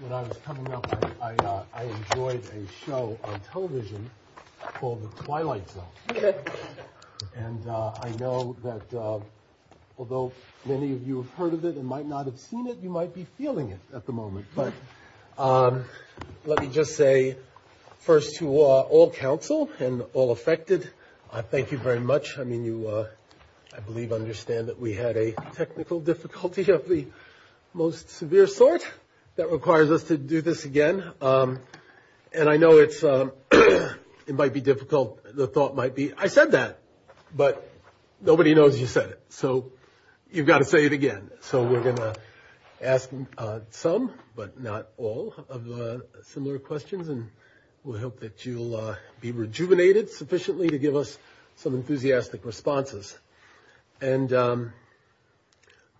When I was coming up, I enjoyed a show on television called The Twilight Zone. And I know that although many of you have heard of it and might not have seen it, you might be feeling it at the moment. But let me just say first to all counsel and all affected, thank you very much. I mean, you, I believe, understand that we had a technical difficulty. You're the most severe source that requires us to do this again. And I know it might be difficult. The thought might be, I said that, but nobody knows you said it. So you've got to say it again. So we're going to ask some, but not all, of the similar questions. And we hope that you'll be rejuvenated sufficiently to give us some enthusiastic responses. And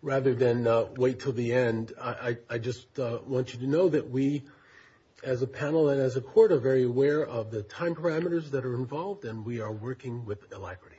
rather than wait until the end, I just want you to know that we, as a panel and as a court, are very aware of the time parameters that are involved, and we are working with the library.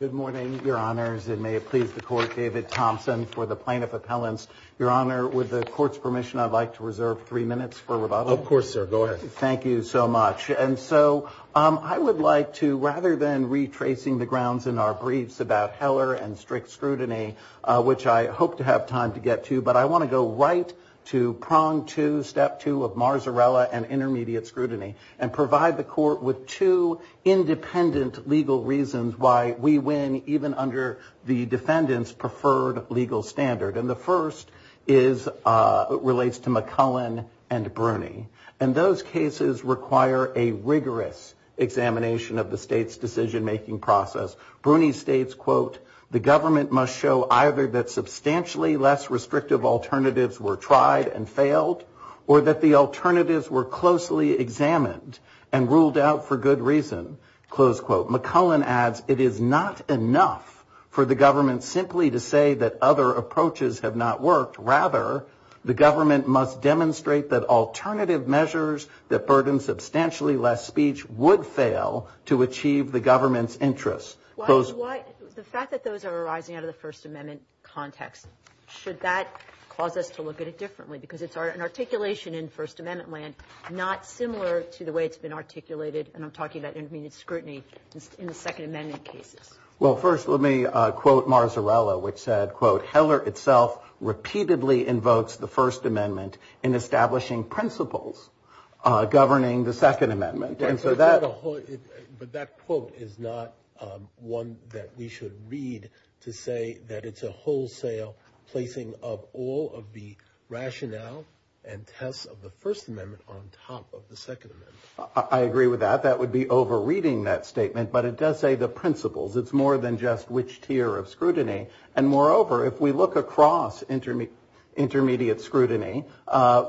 Good morning, Your Honors. And may it please the Court, David Thompson for the plaintiff appellants. Your Honor, with the Court's permission, I'd like to reserve three minutes for rebuttal. Of course, sir, go ahead. Thank you so much. And so I would like to, rather than retracing the grounds in our briefs about Heller and strict scrutiny, which I hope to have time to get to, but I want to go right to prong two, step two of Marzarella and intermediate scrutiny, and provide the Court with two independent legal reasons why we win, even under the defendant's preferred legal standard. And the first relates to McCullen and Bruney. And those cases require a rigorous examination of the state's decision-making process. Bruney states, quote, The government must show either that substantially less restrictive alternatives were tried and failed, or that the alternatives were closely examined and ruled out for good reason, close quote. McCullen adds, It is not enough for the government simply to say that other approaches have not worked. Rather, the government must demonstrate that alternative measures that burden substantially less speech would fail to achieve the government's interests. The fact that those are arising out of the First Amendment context, should that cause us to look at it differently? Because it's an articulation in First Amendment land not similar to the way it's been articulated, and I'm talking about intermediate scrutiny in the Second Amendment case. Well, first let me quote Marzarella, which said, quote, Heller itself repeatedly invokes the First Amendment in establishing principles governing the Second Amendment. But that quote is not one that we should read to say that it's a wholesale placing of all of the rationale and test of the First Amendment on top of the Second Amendment. I agree with that. That would be over-reading that statement, but it does say the principles. It's more than just which tier of scrutiny. And moreover, if we look across intermediate scrutiny,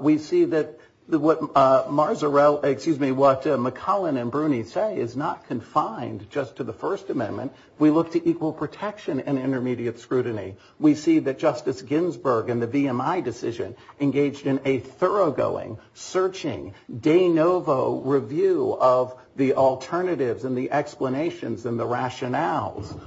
we see that what McCullen and Bruni say is not confined just to the First Amendment. We look to equal protection and intermediate scrutiny. We see that Justice Ginsburg in the VMI decision engaged in a thoroughgoing, searching, de novo review of the alternatives and the explanations and the rationale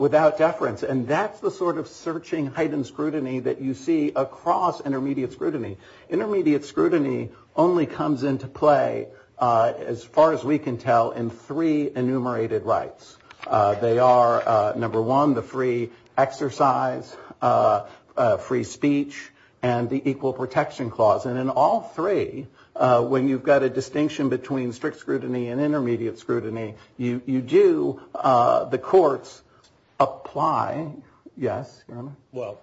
without deference. And that's the sort of searching, heightened scrutiny that you see across intermediate scrutiny. Intermediate scrutiny only comes into play, as far as we can tell, in three enumerated rights. They are, number one, the free exercise, free speech, and the equal protection clause. And in all three, when you've got a distinction between strict scrutiny and intermediate scrutiny, you do, the courts, apply. Yes? Well,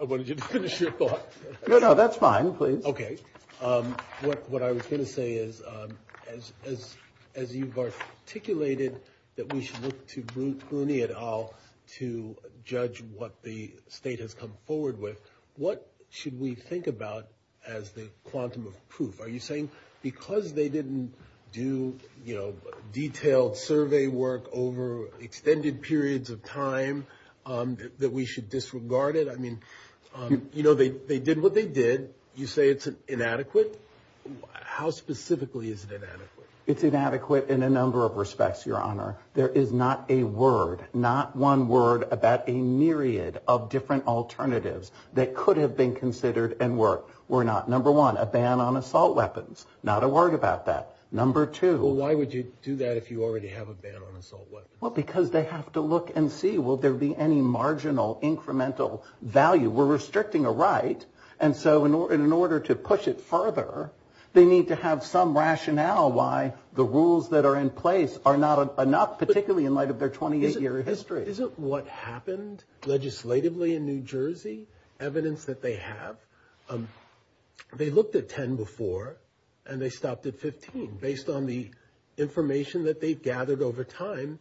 I wanted you to finish your thoughts. No, no, that's fine. Please. Okay. What I was going to say is, as you've articulated that we should look to Bruni et al. to judge what the state has come forward with, what should we think about as the quantum of proof? Are you saying because they didn't do, you know, detailed survey work over extended periods of time, that we should disregard it? I mean, you know, they did what they did. You say it's inadequate. How specifically is it inadequate? It's inadequate in a number of respects, Your Honor. There is not a word, not one word, about a myriad of different alternatives that could have been considered and worked. Were not, number one, a ban on assault weapons. Not a word about that. Number two. Well, why would you do that if you already have a ban on assault weapons? Well, because they have to look and see, will there be any marginal, incremental value? We're restricting a right, and so in order to push it further, they need to have some rationale why the rules that are in place are not enough, particularly in light of their 28-year history. Isn't what happened legislatively in New Jersey evidence that they have? They looked at 10 before, and they stopped at 15. Based on the information that they've gathered over time,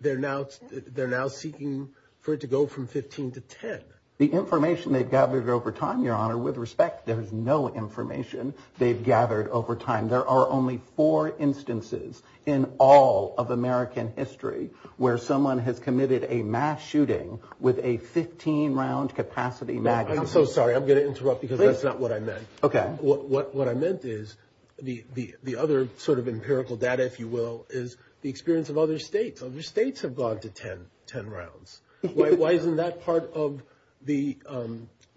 they're now seeking for it to go from 15 to 10. The information they've gathered over time, Your Honor, with respect, there is no information they've gathered over time. There are only four instances in all of American history where someone has committed a mass shooting with a 15-round capacity magazine. I'm so sorry. I'm going to interrupt because that's not what I meant. Okay. What I meant is the other sort of empirical data, if you will, is the experience of other states. Other states have gone to 10 rounds. Why isn't that part of the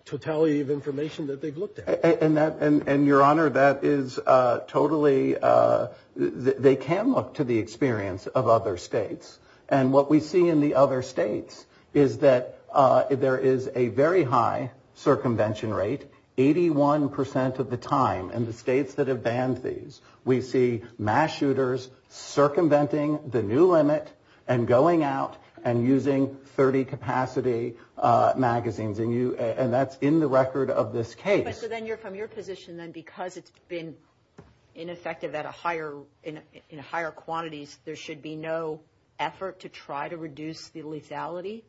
totality of information that they've looked at? And, Your Honor, that is totally – they can look to the experience of other states. And what we see in the other states is that there is a very high circumvention rate. Eighty-one percent of the time in the states that have banned these, we see mass shooters circumventing the new limit and going out and using 30-capacity magazines. And that's in the record of this case. So then you're from your position then because it's been ineffective in higher quantities, there should be no effort to try to reduce the lethality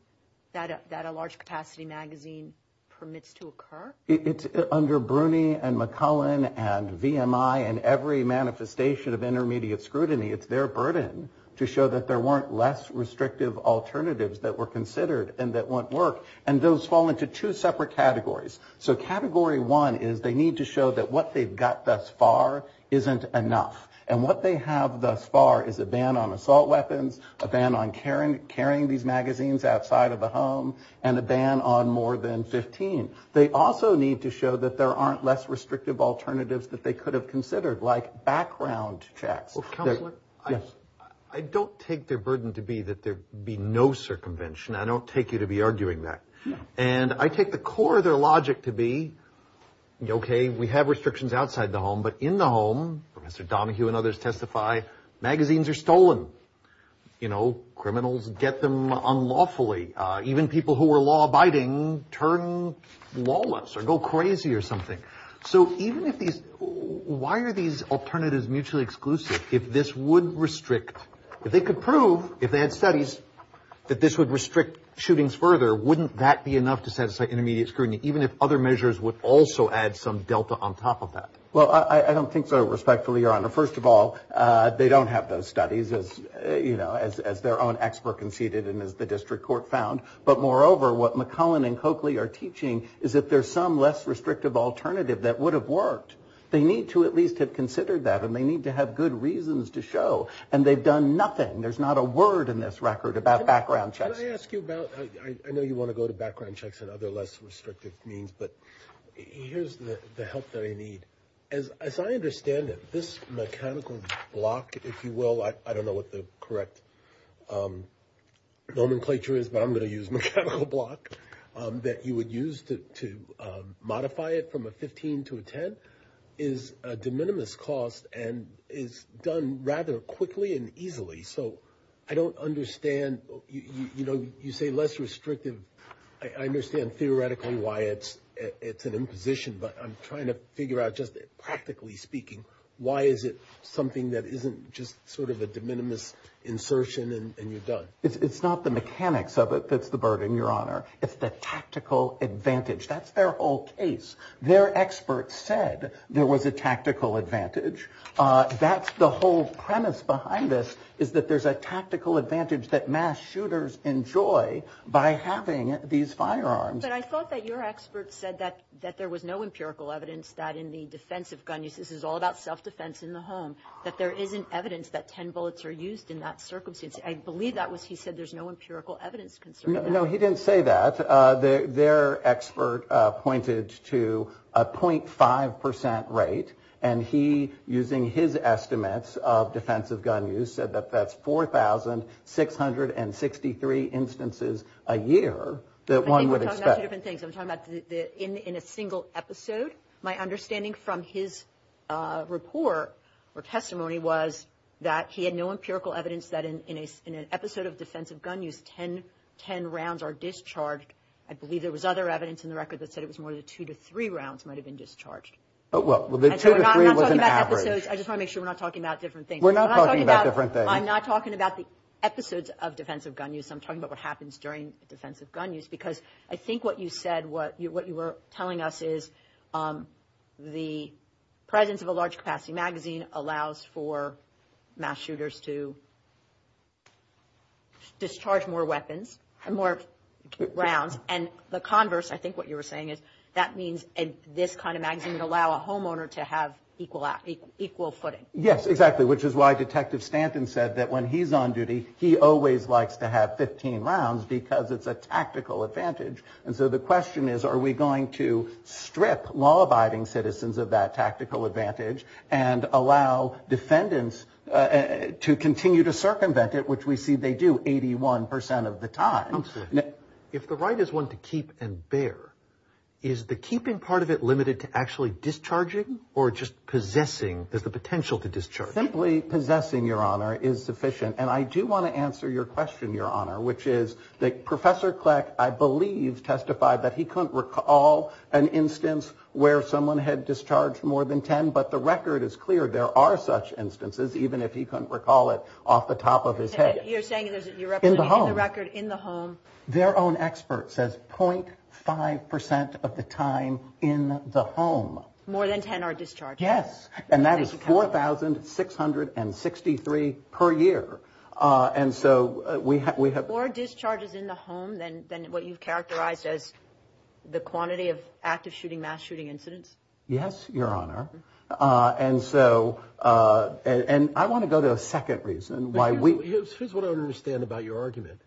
that a large-capacity magazine permits to occur? It's under Bruni and McClellan and VMI and every manifestation of intermediate scrutiny. It's their burden to show that there weren't less restrictive alternatives that were considered and that won't work. And those fall into two separate categories. So Category 1 is they need to show that what they've got thus far isn't enough. And what they have thus far is a ban on assault weapons, a ban on carrying these magazines outside of the home, and a ban on more than 15. They also need to show that there aren't less restrictive alternatives that they could have considered, like background checks. Counselor? Yes. I don't take their burden to be that there be no circumvention. I don't take you to be arguing that. And I take the core of their logic to be, okay, we have restrictions outside the home, but in the home, Mr. Donohue and others testify, magazines are stolen. You know, criminals get them unlawfully. Even people who are law-abiding turn lawless or go crazy or something. So even if these – why are these alternatives mutually exclusive? If this would restrict – if they could prove, if they had studies, that this would restrict shootings further, wouldn't that be enough to satisfy intermediate scrutiny, even if other measures would also add some delta on top of that? Well, I don't think so, respectfully, Your Honor. First of all, they don't have those studies, as their own expert conceded and as the district court found. But moreover, what McClellan and Coakley are teaching is that there's some less restrictive alternative that would have worked. They need to at least have considered that, and they need to have good reasons to show. And they've done nothing. There's not a word in this record about background checks. Can I ask you about – I know you want to go to background checks and other less restrictive means, but here's the help that I need. As I understand it, this mechanical block, if you will – I don't know what the correct nomenclature is, but I'm going to use mechanical block – that you would use to modify it from a 15 to a 10 is a de minimis cost and is done rather quickly and easily. So I don't understand – you know, you say less restrictive. I understand theoretically why it's an imposition, but I'm trying to figure out just practically speaking, why is it something that isn't just sort of a de minimis insertion and you're done? It's not the mechanics of it that's the burden, Your Honor. It's the tactical advantage. That's their whole case. Their expert said there was a tactical advantage. That's the whole premise behind this is that there's a tactical advantage that mass shooters enjoy by having these firearms. But I thought that your expert said that there was no empirical evidence that in the defense of gun use – this is all about self-defense in the home – that there isn't evidence that 10 bullets are used in that circumstance. I believe that was – he said there's no empirical evidence concerning that. No, he didn't say that. But their expert pointed to a 0.5 percent rate, and he, using his estimates of defensive gun use, said that that's 4,663 instances a year that one would expect. I think we're talking about two different things. I'm talking about in a single episode. My understanding from his report or testimony was that he had no empirical evidence that in an episode of defensive gun use, 10 rounds are discharged. I believe there was other evidence in the record that said it was more than two to three rounds might have been discharged. Well, the two to three was an average. I just want to make sure we're not talking about different things. We're not talking about different things. I'm not talking about the episodes of defensive gun use. I'm talking about what happens during defensive gun use because I think what you said, what you were telling us is the presence of a large-capacity magazine allows for mass shooters to discharge more weapons, more rounds. And the converse, I think what you were saying is that means this kind of magazine would allow a homeowner to have equal footing. Yes, exactly, which is why Detective Stanton said that when he's on duty, he always likes to have 15 rounds because it's a tactical advantage. And so the question is, are we going to strip law-abiding citizens of that tactical advantage and allow defendants to continue to circumvent it, which we see they do 81 percent of the time? If the right is one to keep and bear, is the keeping part of it limited to actually discharging or just possessing the potential to discharge? Simply possessing, Your Honor, is sufficient. And I do want to answer your question, Your Honor, which is that Professor Kleck, I believe, testified that he couldn't recall an instance where someone had discharged more than 10, but the record is clear there are such instances, even if he couldn't recall it off the top of his head. You're saying that you're representing the record in the home? Their own expert says 0.5 percent of the time in the home. More than 10 are discharged? Yes, and that is 4,663 per year. And so we have- More discharges in the home than what you've characterized as the quantity of active shooting, mass shooting incidents? Yes, Your Honor. And so I want to go to a second reason why we- Here's what I don't understand about your argument.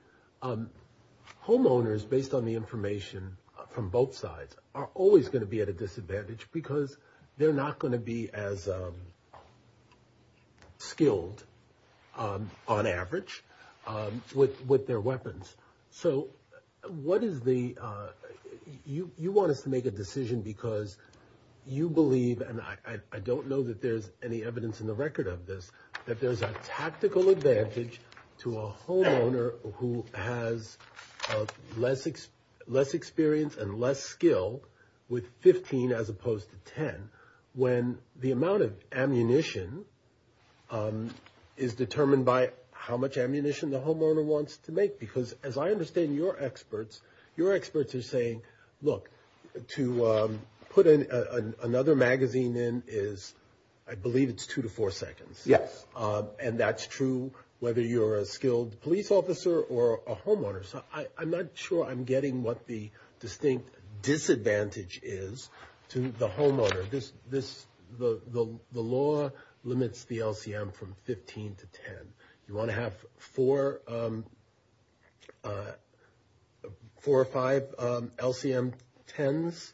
Homeowners, based on the information from both sides, are always going to be at a disadvantage because they're not going to be as skilled, on average, with their weapons. So what is the- You want us to make a decision because you believe, and I don't know that there's any evidence in the record of this, that there's a tactical advantage to a homeowner who has less experience and less skill with 15 as opposed to 10 when the amount of ammunition is determined by how much ammunition the homeowner wants to make? Because as I understand your experts, your experts are saying, look, to put another magazine in is, I believe it's two to four seconds. Yes. And that's true whether you're a skilled police officer or a homeowner. So I'm not sure I'm getting what the distinct disadvantage is to the homeowner. The law limits the LCM from 15 to 10. You want to have four or five LCM 10s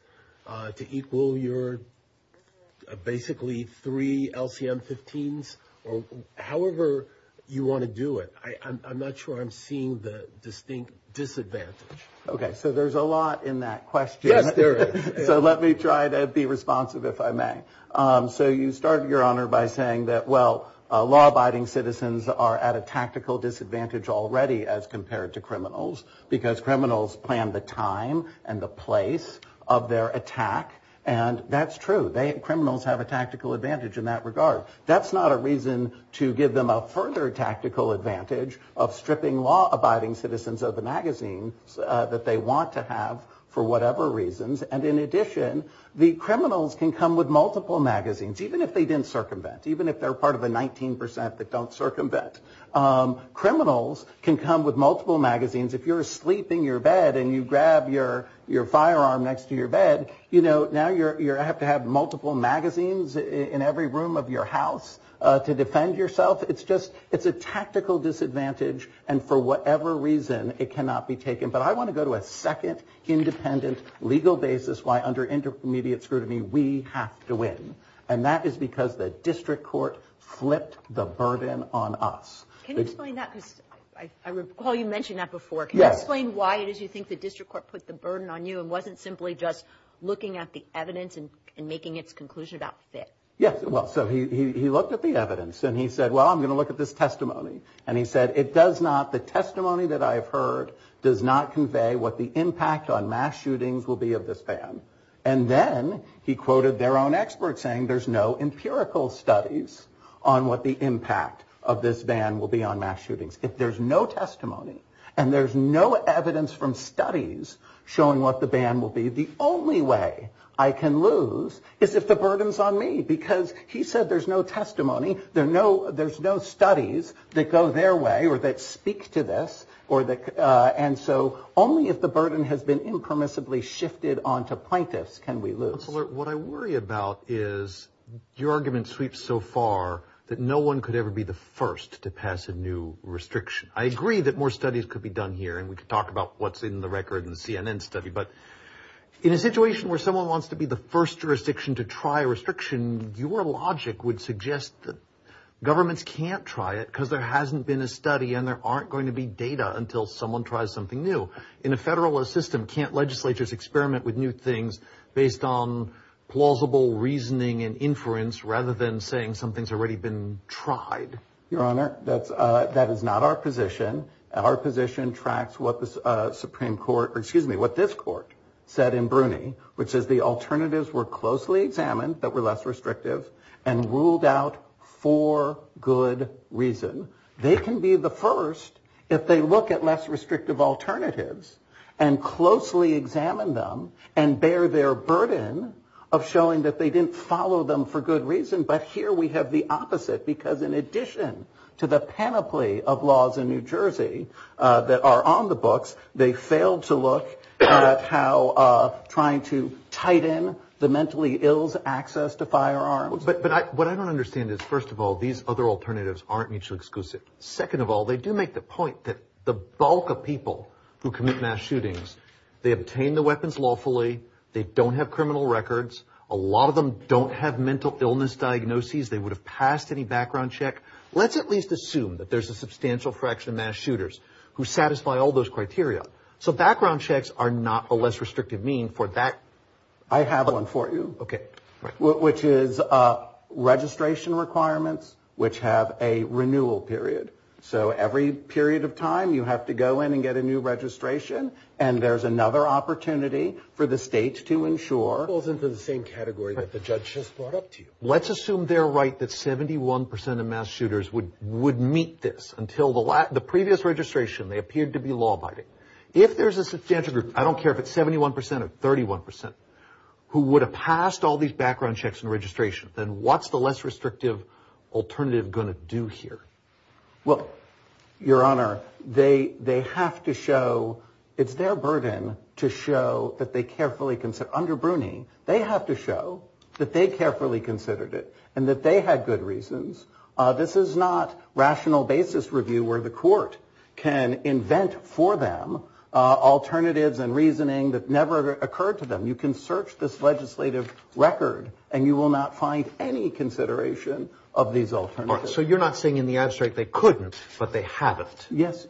to equal your basically three LCM 15s, or however you want to do it. I'm not sure I'm seeing the distinct disadvantage. Okay, so there's a lot in that question. Yes, there is. So let me try to be responsive, if I may. So you started, Your Honor, by saying that, well, law-abiding citizens are at a tactical disadvantage already as compared to criminals because criminals plan the time and the place of their attack. And that's true. Criminals have a tactical advantage in that regard. That's not a reason to give them a further tactical advantage of stripping law-abiding citizens of the magazines that they want to have for whatever reasons. And in addition, the criminals can come with multiple magazines, even if they didn't circumvent, even if they're part of a 19% that don't circumvent. Criminals can come with multiple magazines. If you're asleep in your bed and you grab your firearm next to your bed, you know, now you have to have multiple magazines in every room of your house to defend yourself. It's a tactical disadvantage, and for whatever reason, it cannot be taken. But I want to go to a second independent legal basis why under intermediate scrutiny we have to win, and that is because the district court flipped the burden on us. Can you explain that? Paul, you mentioned that before. Can you explain why did you think the district court put the burden on you and wasn't simply just looking at the evidence and making its conclusion about fit? Yes, well, so he looked at the evidence, and he said, well, I'm going to look at this testimony. And he said, it does not, the testimony that I have heard does not convey what the impact on mass shootings will be of this ban. And then he quoted their own experts saying there's no empirical studies on what the impact of this ban will be on mass shootings. If there's no testimony and there's no evidence from studies showing what the ban will be, the only way I can lose is if the burden's on me because he said there's no testimony, there's no studies that go their way or that speak to this, and so only if the burden has been impermissibly shifted onto plaintiffs can we lose. What I worry about is your argument sweeps so far that no one could ever be the first to pass a new restriction. I agree that more studies could be done here, and we could talk about what's in the record in the CNN study, but in a situation where someone wants to be the first jurisdiction to try a restriction, your logic would suggest that governments can't try it because there hasn't been a study and there aren't going to be data until someone tries something new. In a federalist system, can't legislatures experiment with new things based on plausible reasoning and inference rather than saying something's already been tried? Your Honor, that is not our position. Our position tracks what the Supreme Court, or excuse me, what this court said in Bruny, which is the alternatives were closely examined but were less restrictive and ruled out for good reason. They can be the first if they look at less restrictive alternatives and closely examine them and bear their burden of showing that they didn't follow them for good reason, but here we have the opposite because in addition to the panoply of laws in New Jersey that are on the books, they failed to look at how trying to tighten the mentally ill's access to firearms. But what I don't understand is, first of all, these other alternatives aren't mutually exclusive. Second of all, they do make the point that the bulk of people who commit mass shootings, they obtain the weapons lawfully, they don't have criminal records, a lot of them don't have mental illness diagnoses, they would have passed any background check. Let's at least assume that there's a substantial fraction of mass shooters who satisfy all those criteria. So background checks are not a less restrictive mean for that. I have one for you. Okay. Which is registration requirements which have a renewal period. So every period of time you have to go in and get a new registration and there's another opportunity for the states to ensure. Both are in the same category that the judge has brought up to you. Let's assume they're right that 71% of mass shooters would meet this. Until the previous registration, they appeared to be law-abiding. If there's a substantial group, I don't care if it's 71% or 31%, who would have passed all these background checks and registrations, then what's the less restrictive alternative going to do here? Well, Your Honor, they have to show, it's their burden to show that they carefully consider. Under Bruni, they have to show that they carefully considered it and that they had good reasons. This is not rational basis review where the court can invent for them alternatives and reasoning that never occurred to them. You can search this legislative record and you will not find any consideration of these alternatives. So you're not saying in the abstract they couldn't but they haven't? Yes.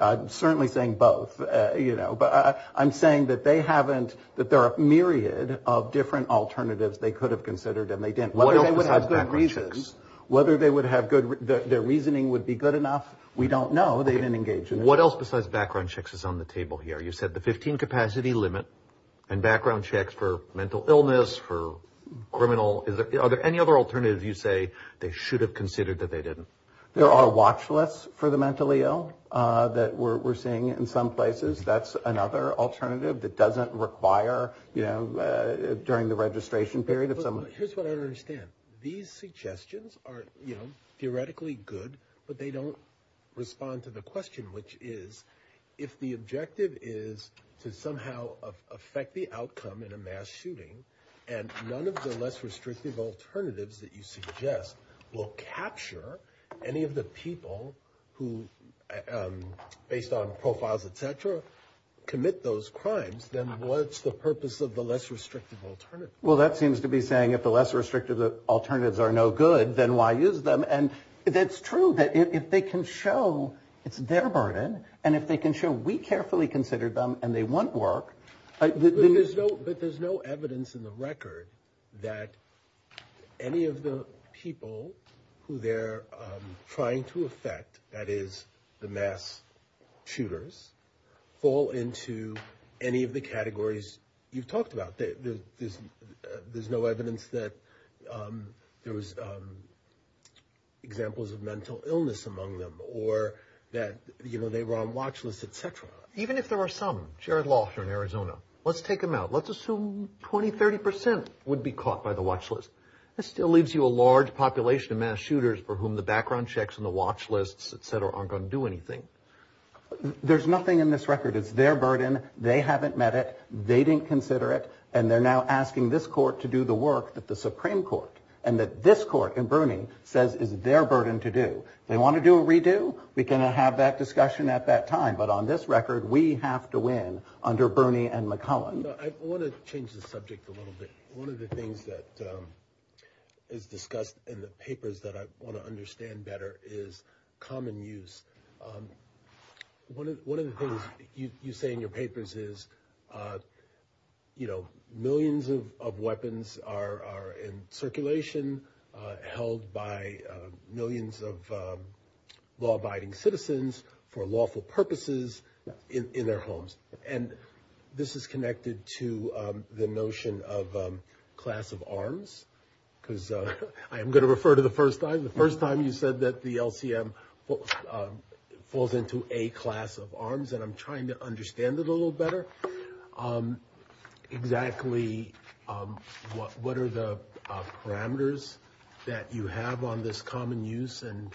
I'm certainly saying both. I'm saying that there are a myriad of different alternatives they could have considered and they didn't. Whether they would have good reasons, whether their reasoning would be good enough, we don't know. They didn't engage in it. What else besides background checks is on the table here? You said the 15 capacity limit and background checks for mental illness, for criminal. Are there any other alternatives you say they should have considered that they didn't? There are watch lists for the mentally ill that we're seeing in some places. That's another alternative that doesn't require, you know, during the registration period. Here's what I don't understand. These suggestions are, you know, theoretically good, but they don't respond to the question, which is if the objective is to somehow affect the outcome in a mass shooting and none of the less restrictive alternatives that you suggest will capture any of the people who, based on profiles, et cetera, commit those crimes, then what's the purpose of the less restrictive alternatives? Well, that seems to be saying if the less restrictive alternatives are no good, then why use them? And it's true that if they can show it's their burden and if they can show we carefully considered them and they want work. But there's no evidence in the record that any of the people who they're trying to affect, that is the mass shooters, fall into any of the categories you've talked about. There's no evidence that there was examples of mental illness among them or that, you know, they were on watch lists, et cetera. Even if there were some, Jared Lawson in Arizona, let's take them out. Let's assume 20, 30 percent would be caught by the watch list. That still leaves you a large population of mass shooters for whom the background checks and the watch lists, et cetera, aren't going to do anything. There's nothing in this record. It's their burden. They haven't met it. They didn't consider it. And they're now asking this court to do the work at the Supreme Court and that this court in Bruning says it's their burden to do. They want to do a redo? We can have that discussion at that time. But on this record, we have to win under Bruning and McClellan. I want to change the subject a little bit. One of the things that is discussed in the papers that I want to understand better is common use. One of the things you say in your papers is, you know, millions of weapons are in circulation, held by millions of law-abiding citizens for lawful purposes in their homes. And this is connected to the notion of class of arms, because I am going to refer to the first time. The first time you said that the LTM falls into a class of arms, and I'm trying to understand it a little better. Exactly what are the parameters that you have on this common use and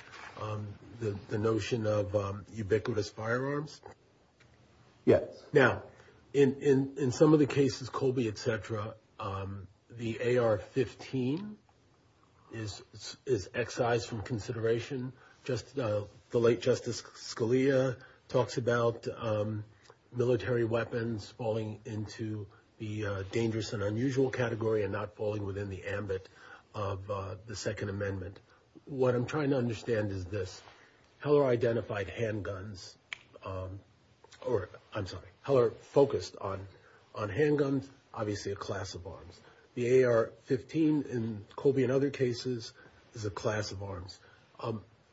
the notion of ubiquitous firearms? Now, in some of the cases, Colby, et cetera, the AR-15 is excised from consideration. The late Justice Scalia talks about military weapons falling into the dangerous and unusual category and not falling within the ambit of the Second Amendment. What I'm trying to understand is this. Heller identified handguns – or, I'm sorry, Heller focused on handguns, obviously a class of arms. The AR-15 in Colby and other cases is a class of arms.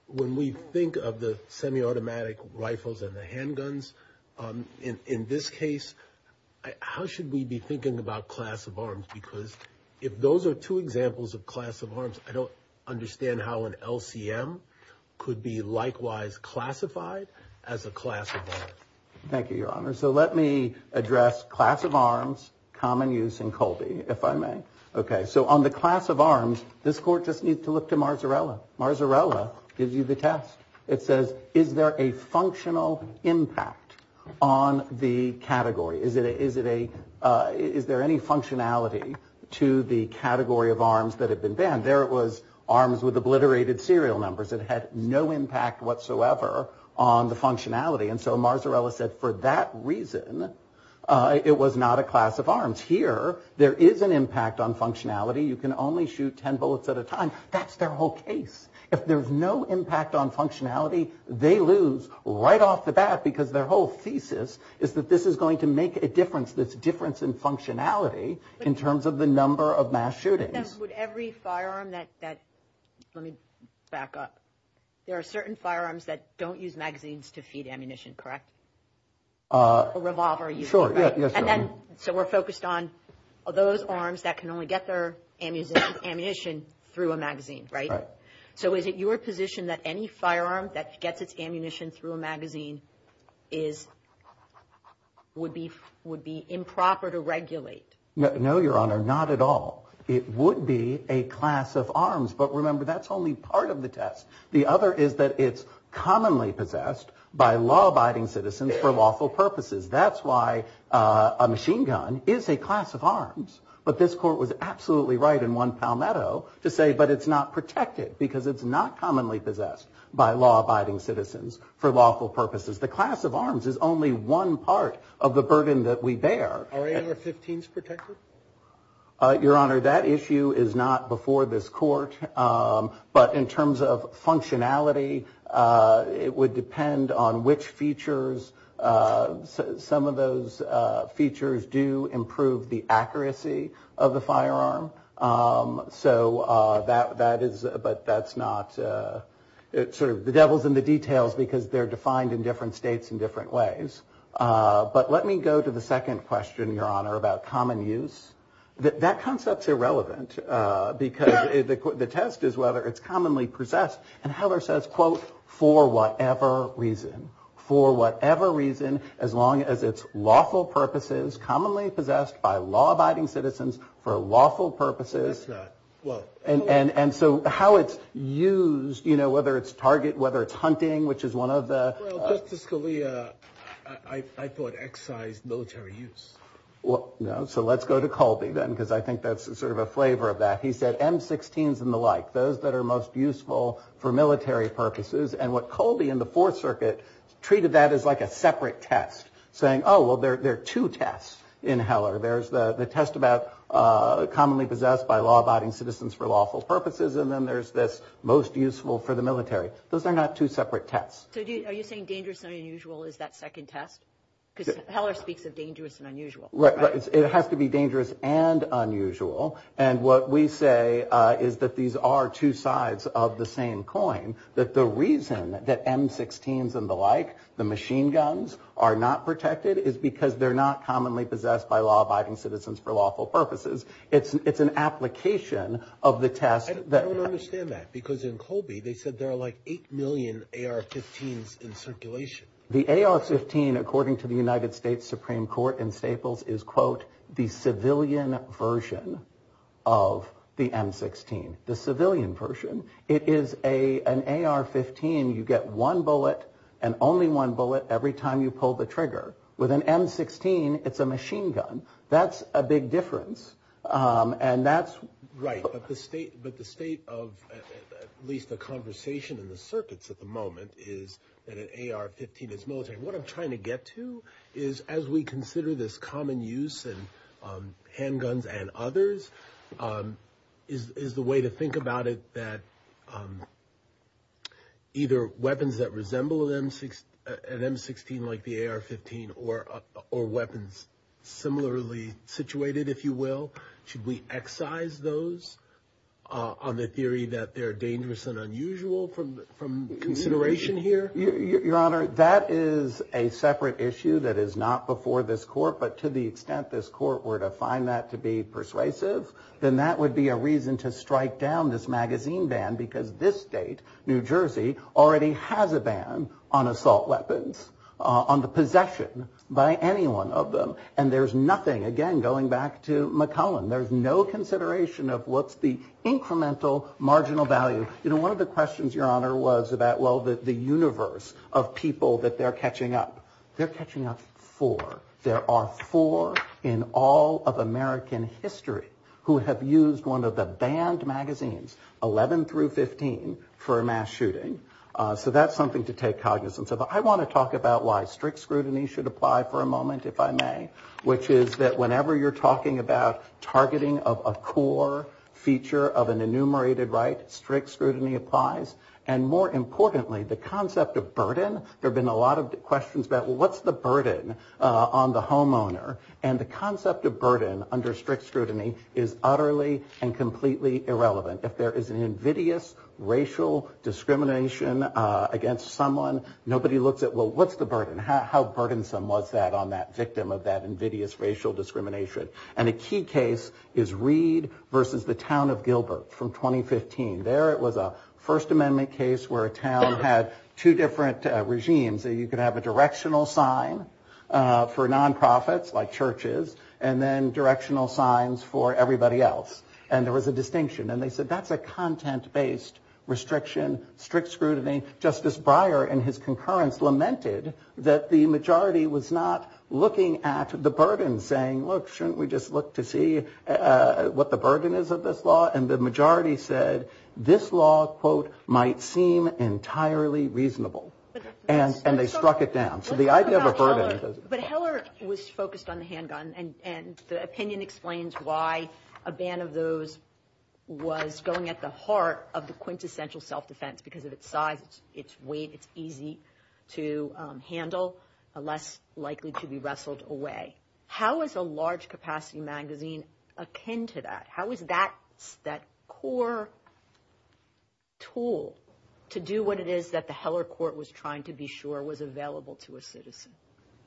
When we think of the semi-automatic rifles and the handguns in this case, how should we be thinking about class of arms? Because if those are two examples of class of arms, I don't understand how an LCM could be likewise classified as a class of arms. Thank you, Your Honor. So let me address class of arms, common use, and Colby, if I may. Okay, so on the class of arms, this Court just needs to look to Marzarella. Marzarella gives you the test. It says, is there a functional impact on the category? Is there any functionality to the category of arms that have been banned? There it was, arms with obliterated serial numbers. It had no impact whatsoever on the functionality. And so Marzarella said, for that reason, it was not a class of arms. Here, there is an impact on functionality. You can only shoot 10 bullets at a time. That's their whole case. If there's no impact on functionality, they lose right off the bat because their whole thesis is that this is going to make a difference, this difference in functionality in terms of the number of mass shootings. With every firearm that – let me back up. There are certain firearms that don't use magazines to feed ammunition, correct? A revolver uses – So we're focused on those arms that can only get their ammunition through a magazine, right? So is it your position that any firearm that gets its ammunition through a magazine would be improper to regulate? No, Your Honor, not at all. It would be a class of arms. But remember, that's only part of the test. The other is that it's commonly possessed by law-abiding citizens for lawful purposes. That's why a machine gun is a class of arms. But this court was absolutely right in 1 Palmetto to say, but it's not protected because it's not commonly possessed by law-abiding citizens for lawful purposes. The class of arms is only one part of the burden that we bear. Are AR-15s protected? Your Honor, that issue is not before this court. But in terms of functionality, it would depend on which features – some of those features do improve the accuracy of the firearm. So that is – but that's not – it's sort of the devil's in the details because they're defined in different states in different ways. But let me go to the second question, Your Honor, about common use. That concept's irrelevant because the test is whether it's commonly possessed. And Heller says, quote, for whatever reason, for whatever reason, as long as it's lawful purposes, commonly possessed by law-abiding citizens for lawful purposes. And so how it's used, you know, whether it's target, whether it's hunting, which is one of the – Well, Justice Scalia, I thought excise military use. Well, no, so let's go to Colby then because I think that's sort of a flavor of that. He said M-16s and the like, those that are most useful for military purposes. And what Colby in the Fourth Circuit treated that as like a separate test, saying, oh, well, there are two tests in Heller. There's the test about commonly possessed by law-abiding citizens for lawful purposes, and then there's this most useful for the military. Those are not two separate tests. So are you saying dangerous and unusual is that second test? Because Heller speaks of dangerous and unusual. Right, it has to be dangerous and unusual. And what we say is that these are two sides of the same coin, that the reason that M-16s and the like, the machine guns, are not protected is because they're not commonly possessed by law-abiding citizens for lawful purposes. It's an application of the test that – There are 8 million AR-15s in circulation. The AR-15, according to the United States Supreme Court in Staples, is, quote, the civilian version of the M-16, the civilian version. It is an AR-15. You get one bullet and only one bullet every time you pull the trigger. With an M-16, it's a machine gun. That's a big difference, and that's – But the state of at least the conversation in the circuits at the moment is that an AR-15 is military. What I'm trying to get to is, as we consider this common use in handguns and others, is the way to think about it that either weapons that resemble an M-16 like the AR-15 or weapons similarly situated, if you will, should we excise those on the theory that they're dangerous and unusual from consideration here? Your Honor, that is a separate issue that is not before this court, but to the extent this court were to find that to be persuasive, then that would be a reason to strike down this magazine ban because this state, New Jersey, already has a ban on assault weapons, on the possession by anyone of them. And there's nothing – again, going back to McClellan – there's no consideration of what's the incremental marginal value. You know, one of the questions, Your Honor, was about, well, the universe of people that they're catching up. They're catching up four. There are four in all of American history who have used one of the banned magazines, 11 through 15, for a mass shooting. So that's something to take cognizance of. I want to talk about why strict scrutiny should apply for a moment, if I may, which is that whenever you're talking about targeting of a core feature of an enumerated right, strict scrutiny applies. And more importantly, the concept of burden – there have been a lot of questions about, well, what's the burden on the homeowner? And the concept of burden under strict scrutiny is utterly and completely irrelevant. If there is an invidious racial discrimination against someone, nobody looks at, well, what's the burden? How burdensome was that on that victim of that invidious racial discrimination? And a key case is Reed versus the town of Gilbert from 2015. There it was a First Amendment case where a town had two different regimes. You could have a directional sign for nonprofits, like churches, and then directional signs for everybody else. And there was a distinction. And they said that's a content-based restriction, strict scrutiny. Justice Breyer, in his concurrence, lamented that the majority was not looking at the burden, saying, look, shouldn't we just look to see what the burden is of this law? And the majority said this law, quote, might seem entirely reasonable. And they struck it down. So the idea of a burden – But Heller was focused on the handgun, and the opinion explains why a ban of those was going at the heart of the quintessential self-defense, because of its size, its weight, it's easy to handle, less likely to be wrestled away. How does a large-capacity magazine append to that? How is that core tool to do what it is that the Heller court was trying to be sure was available to a citizen?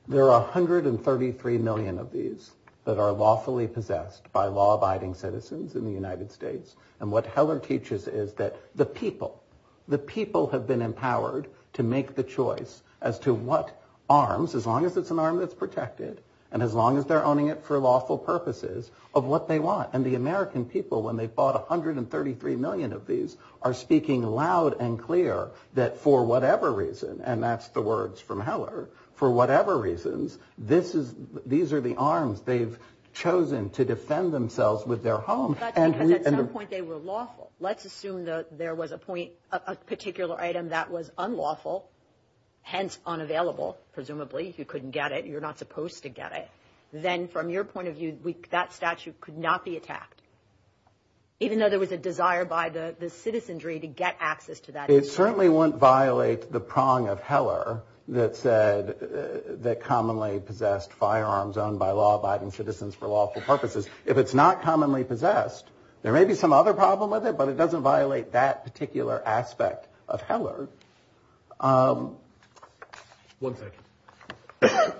There are 133 million of these that are lawfully possessed by law-abiding citizens in the United States. And what Heller teaches is that the people, the people have been empowered to make the choice as to what arms, as long as it's an arm that's protected, and as long as they're owning it for lawful purposes, of what they want. And the American people, when they fought 133 million of these, are speaking loud and clear that for whatever reason, and that's the words from Heller, for whatever reasons, these are the arms they've chosen to defend themselves with their homes. That's because at some point they were lawful. Let's assume that there was a point, a particular item that was unlawful, hence unavailable, presumably. You couldn't get it. You're not supposed to get it. Then from your point of view, that statute could not be attacked, even though there was a desire by the citizenry to get access to that. It certainly wouldn't violate the prong of Heller that said that commonly possessed firearms owned by law-abiding citizens for lawful purposes. If it's not commonly possessed, there may be some other problem with it, but it doesn't violate that particular aspect of Heller. One second.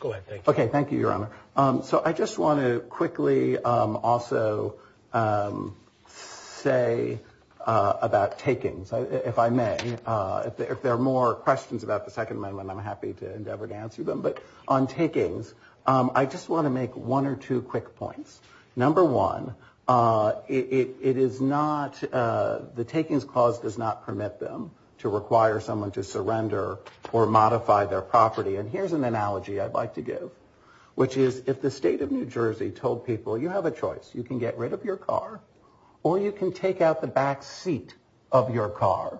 Go ahead. Okay, thank you, Your Honor. So I just want to quickly also say about taking, if I may. If there are more questions about the Second Amendment, I'm happy to endeavor to answer them. But on takings, I just want to make one or two quick points. Number one, the takings clause does not permit them to require someone to surrender or modify their property. And here's an analogy I'd like to give, which is if the state of New Jersey told people, you have a choice, you can get rid of your car or you can take out the back seat of your car,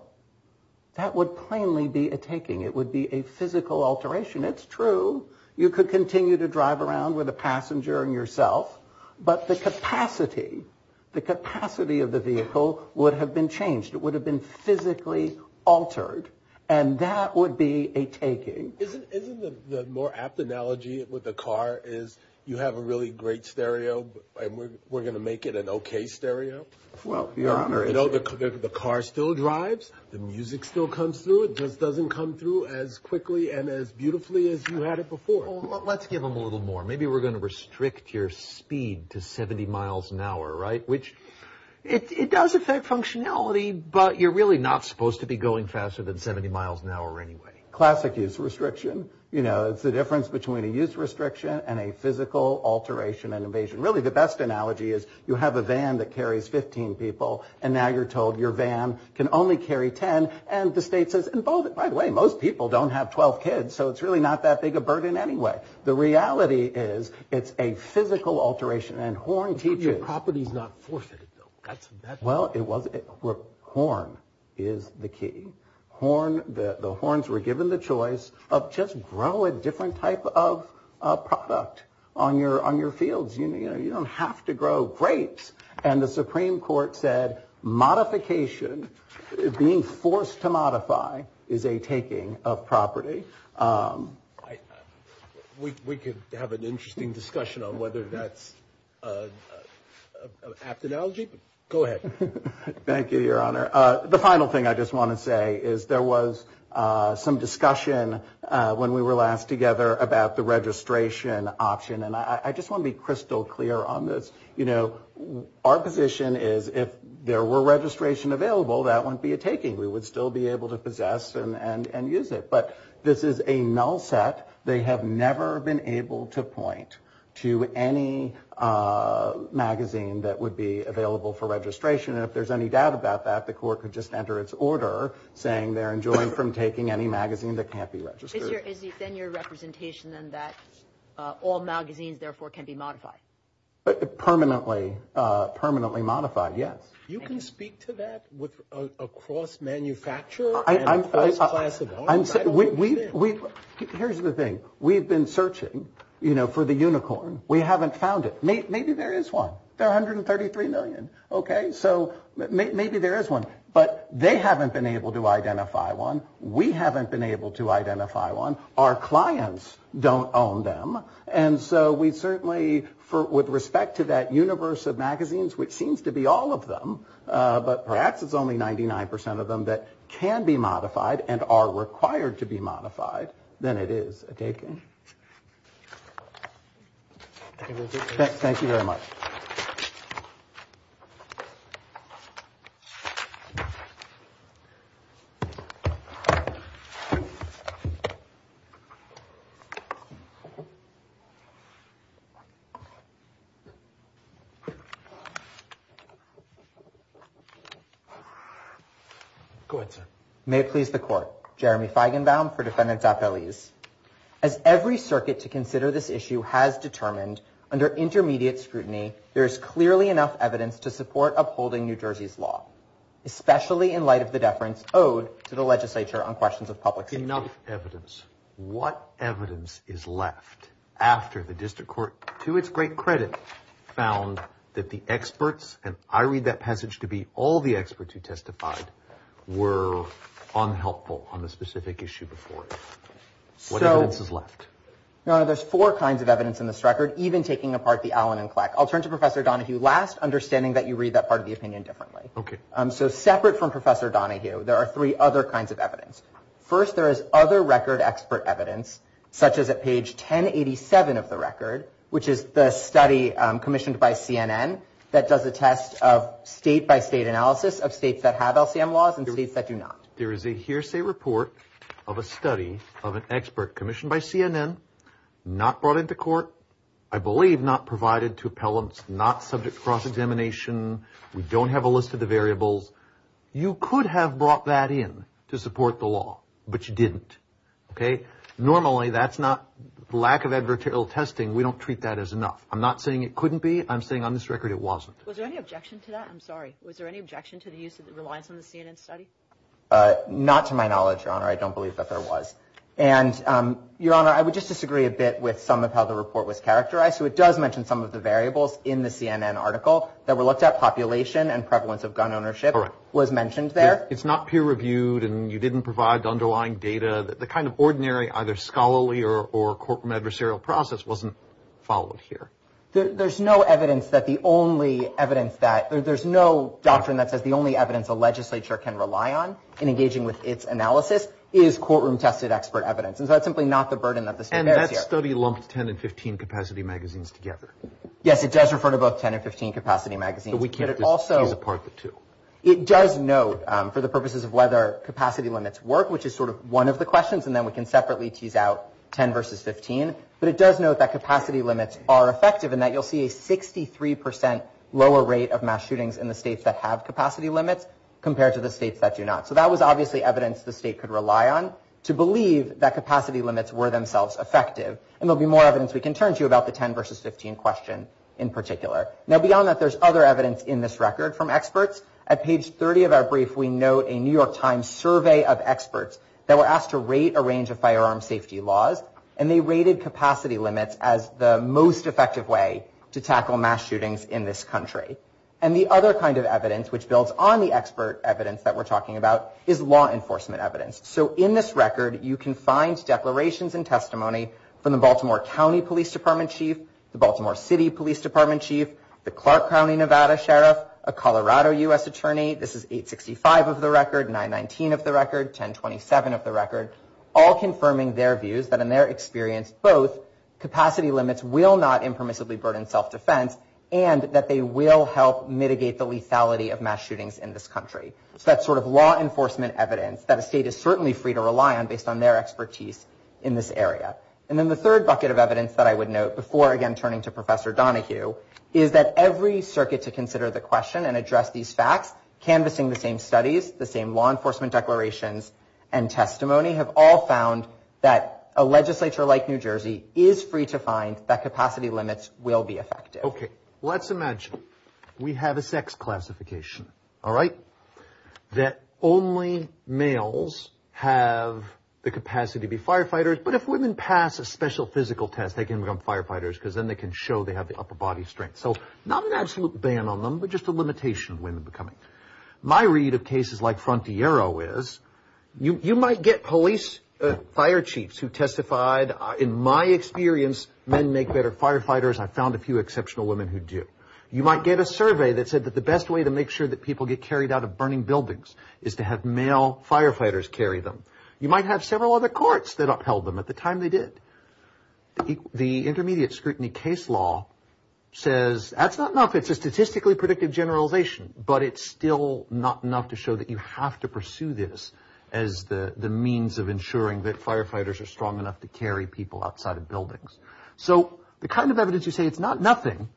that would plainly be a taking. It would be a physical alteration. It's true, you could continue to drive around with a passenger and yourself, but the capacity, the capacity of the vehicle would have been changed. It would have been physically altered, and that would be a taking. Isn't the more apt analogy with the car is you have a really great stereo and we're going to make it an okay stereo? Well, Your Honor. You know, the car still drives. The music still comes through. It just doesn't come through as quickly and as beautifully as you had it before. Well, let's give them a little more. Maybe we're going to restrict your speed to 70 miles an hour, right, which it does affect functionality, but you're really not supposed to be going faster than 70 miles an hour anyway. Classic use restriction. You know, it's the difference between a use restriction and a physical alteration and evasion. Really, the best analogy is you have a van that carries 15 people and now you're told your van can only carry 10, and the state says involve it. By the way, most people don't have 12 kids, so it's really not that big a burden anyway. The reality is it's a physical alteration and horn keeping. Your property is not forfeited, though. Well, it wasn't. Horn is the key. The horns were given the choice of just grow a different type of product on your fields. You don't have to grow grapes. And the Supreme Court said modification, being forced to modify, is a taking of property. We could have an interesting discussion on whether that's an apt analogy, but go ahead. Thank you, Your Honor. The final thing I just want to say is there was some discussion when we were last together about the registration option, and I just want to be crystal clear on this. You know, our position is if there were registration available, that wouldn't be a taking. We would still be able to possess and use it. But this is a null set. They have never been able to point to any magazine that would be available for registration. And if there's any doubt about that, the court could just enter its order saying they're enjoined from taking any magazine that can't be registered. Is it then your representation, then, that all magazines, therefore, can be modified? Permanently modified, yes. You can speak to that with a cross manufacturer? Here's the thing. We've been searching, you know, for the unicorn. We haven't found it. Maybe there is one. There are 133 million. Okay? So maybe there is one. But they haven't been able to identify one. We haven't been able to identify one. Our clients don't own them. And so we certainly, with respect to that universe of magazines, which seems to be all of them, but perhaps it's only 99% of them that can be modified and are required to be modified, then it is a taking. Thank you very much. Go ahead, sir. May it please the court. Jeremy Feigenbaum for Defendant Top Values. As every circuit to consider this issue has determined, under intermediate scrutiny, there is clearly enough evidence to support upholding New Jersey's law, especially in light of the deference owed to the legislature on questions of public safety. Enough evidence. What evidence is left after the district court, to its great credit, found that the experts, and I read that passage to be all the experts who testified, were unhelpful on the specific issue before it? What evidence is left? There's four kinds of evidence in this record, even taking apart the Allen and Kleck. I'll turn to Professor Donahue last, understanding that you read that part of the opinion differently. So separate from Professor Donahue, there are three other kinds of evidence. First, there is other record expert evidence, such as at page 1087 of the record, which is the study commissioned by CNN that does a test of state-by-state analysis of states that have LCM laws and states that do not. There is a hearsay report of a study of an expert commissioned by CNN, not brought into court, I believe not provided to appellants, not subject to cross-examination, we don't have a list of the variables. You could have brought that in to support the law, but you didn't. Normally, that's not, lack of adversarial testing, we don't treat that as enough. I'm not saying it couldn't be. I'm saying on this record it wasn't. Was there any objection to that? I'm sorry. Was there any objection to the use of the reliance on the CNN study? Not to my knowledge, Your Honor. I don't believe that there was. And Your Honor, I would just disagree a bit with some of how the report was characterized. So it does mention some of the variables in the CNN article that were looked at, population and prevalence of gun ownership was mentioned there. It's not peer-reviewed and you didn't provide the underlying data. The kind of ordinary either scholarly or courtroom adversarial process wasn't followed here. There's no evidence that the only evidence that, there's no doctrine that says the only evidence a legislature can rely on in engaging with its analysis is courtroom-tested expert evidence. And so that's simply not the burden that this thing bears here. And that study lumped 10 and 15 capacity magazines together. Yes, it does refer to both 10 and 15 capacity magazines. So we can't just tear them apart into two. It does note for the purposes of whether capacity limits work, which is sort of one of the questions, and then we can separately tease out 10 versus 15. But it does note that capacity limits are effective and that you'll see a 63% lower rate of mass shootings in the states that have capacity limits compared to the states that do not. So that was obviously evidence the state could rely on to believe that capacity limits were themselves effective. And there'll be more evidence we can turn to about the 10 versus 15 question in particular. Now beyond that, there's other evidence in this record from experts. At page 30 of our brief, we note a New York Times survey of experts that were asked to rate a range of firearm safety laws. And they rated capacity limits as the most effective way to tackle mass shootings in this country. And the other kind of evidence, which builds on the expert evidence that we're talking about, is law enforcement evidence. So in this record, you can find declarations and testimony from the Baltimore County Police Department Chief, the Baltimore City Police Department Chief, the Clark County Nevada Sheriff, a Colorado U.S. Attorney. This is 865 of the record, 919 of the record, 1027 of the record, all confirming their views that in their experience, both capacity limits will not impermissibly burden self-defense and that they will help mitigate the lethality of mass shootings in this country. So that's sort of law enforcement evidence that a state is certainly free to rely on based on their expertise in this area. And then the third bucket of evidence that I would note, before again turning to Professor Donohue, is that every circuit to consider the question and address these facts, canvassing the same studies, the same law enforcement declarations, and testimony have all found that a legislature like New Jersey is free to find that capacity limits will be effective. Okay, let's imagine we have a sex classification, all right, that only males have the capacity to be firefighters, but if women pass a special physical test, they can become firefighters because then they can show they have the upper body strength. So not an absolute ban on them, but just a limitation of women becoming. My read of cases like Frontiero is, you might get police fire chiefs who testified, in my experience, men make better firefighters. I found a few exceptional women who did. You might get a survey that said that the best way to make sure that people get carried out of burning buildings is to have male firefighters carry them. You might have several other courts that upheld them at the time they did. The intermediate scrutiny case law says that's not enough. It's a statistically predictive generalization, but it's still not enough to show that you have to pursue this as the means of ensuring that firefighters are strong enough to carry people outside of buildings. So the kind of evidence you see is not nothing,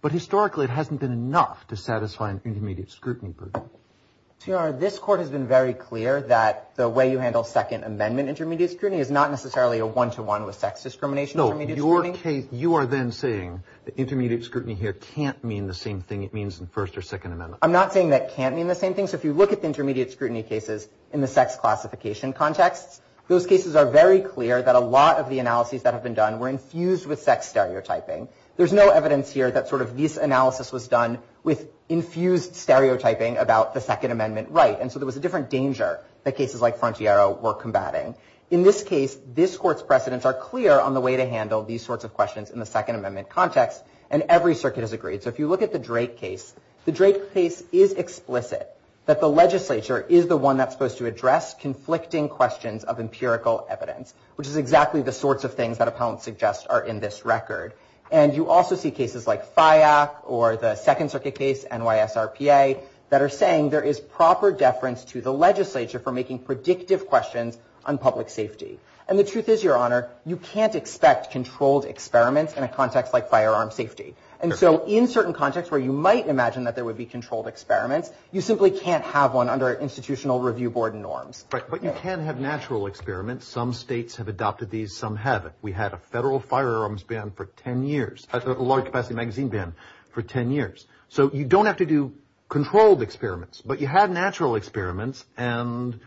but historically it hasn't been enough to satisfy an intermediate scrutiny. So your Honor, this court has been very clear that the way you handle Second Amendment intermediate scrutiny is not necessarily a one-to-one with sex discrimination. No, you are then saying that intermediate scrutiny here can't mean the same thing it means in First or Second Amendment. I'm not saying that it can't mean the same thing. So if you look at the intermediate scrutiny cases in the sex classification context, those cases are very clear that a lot of the analyses that have been done were infused with sex stereotyping. There's no evidence here that sort of this analysis was done with infused stereotyping about the Second Amendment right. And so there was a different danger that cases like Frontiero were combating. In this case, this court's precedents are clear on the way to handle these sorts of questions in the Second Amendment context, and every circuit has agreed. So if you look at the Drake case, the Drake case is explicit that the legislature is the one that's supposed to address conflicting questions of empirical evidence, which is exactly the sorts of things that a panel suggests are in this record. And you also see cases like FIAC or the Second Circuit case, NYSRPA, that are saying there is proper deference to the legislature for making predictive questions on public safety. And the truth is, Your Honor, you can't expect controlled experiments in a context like firearm safety. And so in certain contexts where you might imagine that there would be controlled experiments, you simply can't have one under institutional review board norms. But you can have natural experiments. Some states have adopted these, some haven't. We had a federal firearms ban for 10 years, a large-capacity magazine ban for 10 years. So you don't have to do controlled experiments, but you have natural experiments, and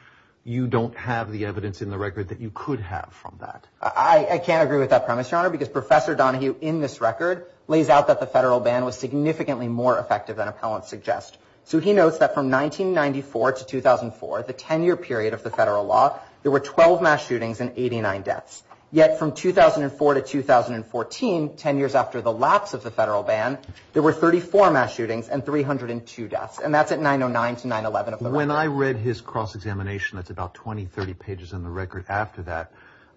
you don't have the evidence in the record that you could have from that. I can't agree with that premise, Your Honor, because Professor Donahue, in this record, lays out that the federal ban was significantly more effective than appellants suggest. So he notes that from 1994 to 2004, the 10-year period of the federal law, there were 12 mass shootings and 89 deaths. Yet from 2004 to 2014, 10 years after the lapse of the federal ban, there were 34 mass shootings and 302 deaths. And that's at 909 to 911. When I read his cross-examination, that's about 20, 30 pages in the record after that,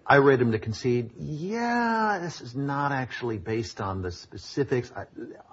I read him to concede, yeah, this is not actually based on the specifics.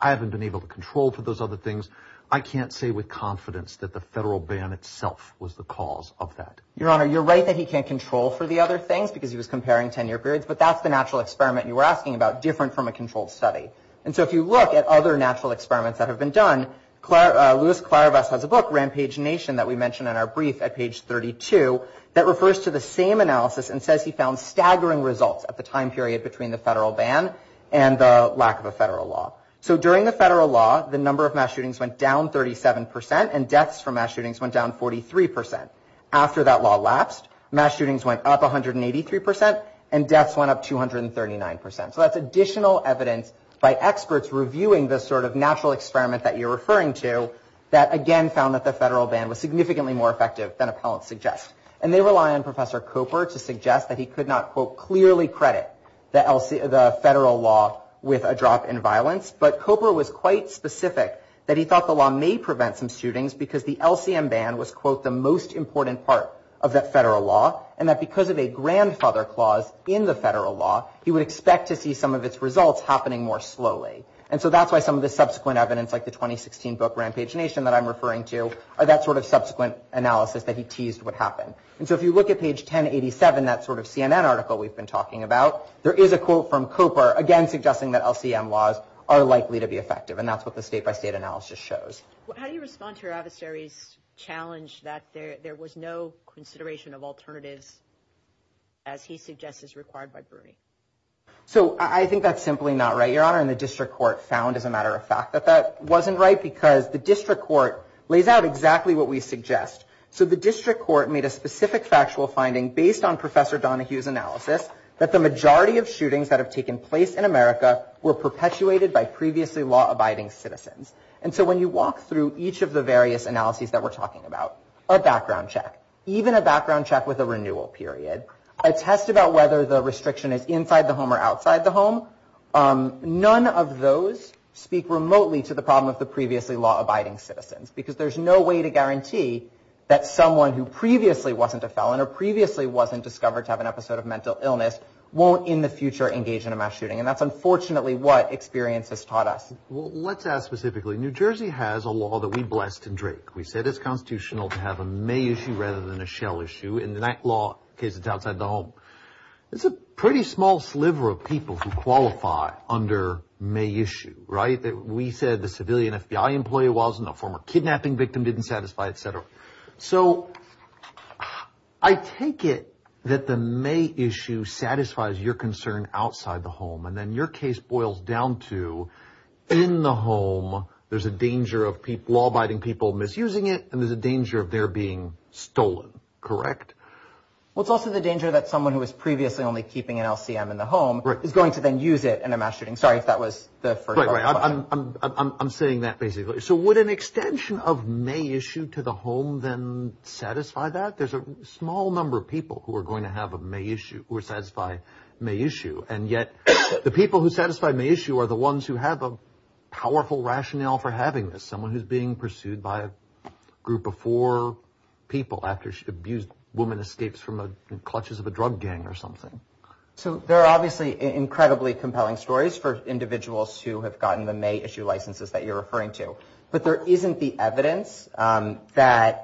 I haven't been able to control for those other things. I can't say with confidence that the federal ban itself was the cause of that. Your Honor, you're right that he can't control for the other things because he was comparing 10-year periods, but that's the natural experiment you were asking about, different from a controlled study. And so if you look at other natural experiments that have been done, Luis Clarivas has a book, Rampage Nation, that we mentioned in our brief at page 32, that refers to the same analysis and says he found staggering results at the time period between the federal ban and the lack of a federal law. So during the federal law, the number of mass shootings went down 37%, and deaths from mass shootings went down 43%. After that law lapsed, mass shootings went up 183% and deaths went up 239%. So that's additional evidence by experts reviewing the sort of natural experiment that you're referring to that again found that the federal ban was significantly more effective than appellants suggest. And they rely on Professor Koper to suggest that he could not, quote, clearly credit the federal law with a drop in violence, but Koper was quite specific that he thought the law may prevent some shootings because the LCM ban was, quote, the most important part of that federal law, and that because of a grandfather clause in the federal law, he would expect to see some of its results happening more slowly. And so that's why some of the subsequent evidence, like the 2016 book, Rampage Nation, that I'm referring to are that sort of subsequent analysis that he teased would happen. And so if you look at page 1087, that sort of CNN article we've been talking about, there is a quote from Koper, again, suggesting that LCM laws are likely to be effective, and that's what the state-by-state analysis shows. How do you respond to your adversary's challenge that there was no consideration of alternatives, as he suggests is required by Brody? So I think that's simply not right, Your Honor, and the district court found, as a matter of fact, that that wasn't right because the district court lays out exactly what we suggest. So the district court made a specific factual finding based on Professor Donohue's analysis that the majority of shootings that have taken place in America were perpetuated by previously law-abiding citizens. And so when you walk through each of the various analyses that we're talking about, a background check, even a background check with a renewal period, a test about whether the restriction is inside the home or outside the home, none of those speak remotely to the problem of the previously law-abiding citizens because there's no way to guarantee that someone who previously wasn't a felon or previously wasn't discovered to have an episode of mental illness won't in the future engage in a mass shooting, and that's unfortunately what experience has taught us. Let's add specifically, New Jersey has a law that we blessed in Drake. We said it's constitutional to have a May issue rather than a Shell issue. In that law, in case it's outside the home, it's a pretty small sliver of people who qualify under May issue, right? We said the civilian FBI employee wasn't a former kidnapping victim, didn't satisfy, etc. So I take it that the May issue satisfies your concern outside the home, and then your case boils down to in the home, there's a danger of law-abiding people misusing it, and there's a danger of their being stolen, correct? Well, it's also the danger that someone who was previously only keeping an LCM in the home is going to then use it in a mass shooting. Sorry if that was the first part of your question. I'm saying that basically. So would an extension of May issue to the home then satisfy that? There's a small number of people who are going to have a May issue, who would satisfy May issue, and yet the people who satisfy May issue are the ones who have a powerful rationale for having this, someone who's being pursued by a group of four people after an abused woman escapes from the clutches of a drug gang or something. So there are obviously incredibly compelling stories for individuals who have gotten the May issue licenses that you're referring to, but there isn't the evidence that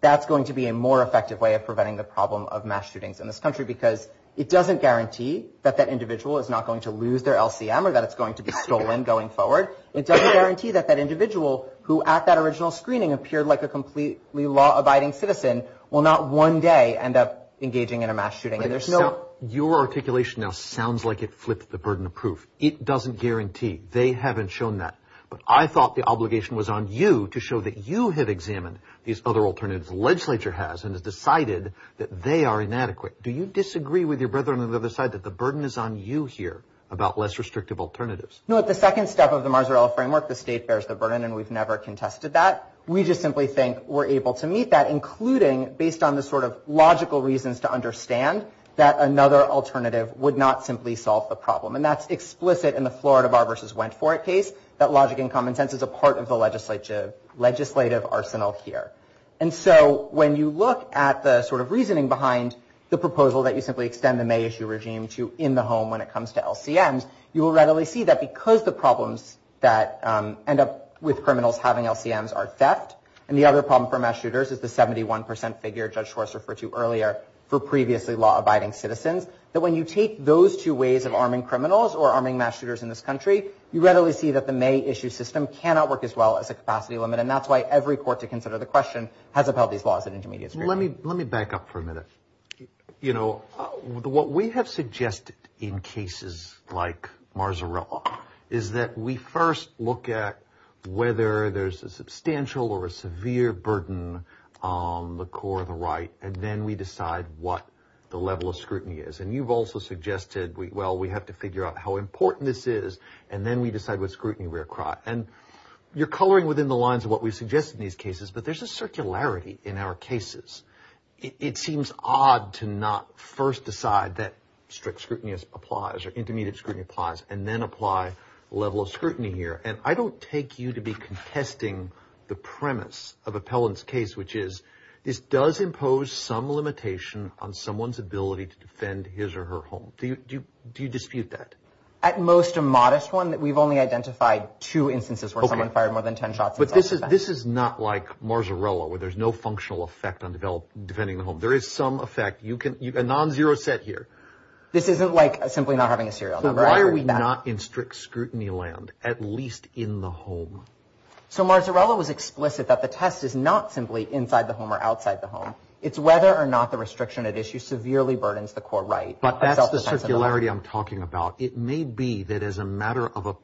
that's going to be a more effective way of preventing the problem of mass shootings in this country because it doesn't guarantee that that individual is not going to lose their LCM or that it's going to be stolen going forward. It doesn't guarantee that that individual who at that original screening appeared like a completely law-abiding citizen will not one day end up engaging in a mass shooting. Your articulation now sounds like it flipped the burden of proof. It doesn't guarantee. They haven't shown that. But I thought the obligation was on you to show that you have examined these other alternatives the legislature has and has decided that they are inadequate. Do you disagree with your brethren on the other side that the burden is on you here about less restrictive alternatives? No. The second step of the Marzarella framework, the state bears the burden, and we've never contested that. We just simply think we're able to meet that, including based on the sort of logical reasons to understand that another alternative would not simply solve the problem. And that's explicit in the Florida Bar versus Wentworth case, that logic and common sense is a part of the legislative arsenal here. And so when you look at the sort of reasoning behind the proposal that you simply extend the May issue regime to in the home when it comes to LCMs, you will readily see that because the problems that end up with criminals having LCMs are theft, and the other problem for mass shooters is the 71% figure Judge Schwartz referred to earlier for previously law-abiding citizens, that when you take those two ways of arming criminals or arming mass shooters in this country, you readily see that the May issue system cannot work as well as a capacity limit, and that's why every court to consider the question has upheld these laws in intermediate scrutiny. Let me back up for a minute. You know, what we have suggested in cases like Marzarella is that we first look at whether there's a substantial or a severe burden on the core of the right, and then we decide what the level of scrutiny is. And you've also suggested, well, we have to figure out how important this is, and then we decide what scrutiny we're across. And you're coloring within the lines of what we suggest in these cases, but there's a circularity in our cases. It seems odd to not first decide that strict scrutiny applies or intermediate scrutiny applies and then apply a level of scrutiny here. And I don't take you to be contesting the premise of Appellant's case, which is this does impose some limitation on someone's ability to defend his or her home. Do you dispute that? At most a modest one. We've only identified two instances where someone fired more than ten shots. But this is not like Marzarella, where there's no functional effect on defending the home. There is some effect. A non-zero set here. This isn't like simply not having a serial number. Why are we not in strict scrutiny land, at least in the home? So Marzarella was explicit that the test is not simply inside the home or outside the home. It's whether or not the restriction at issue severely burdens the core right. But that's the circularity I'm talking about. It may be that as a matter of a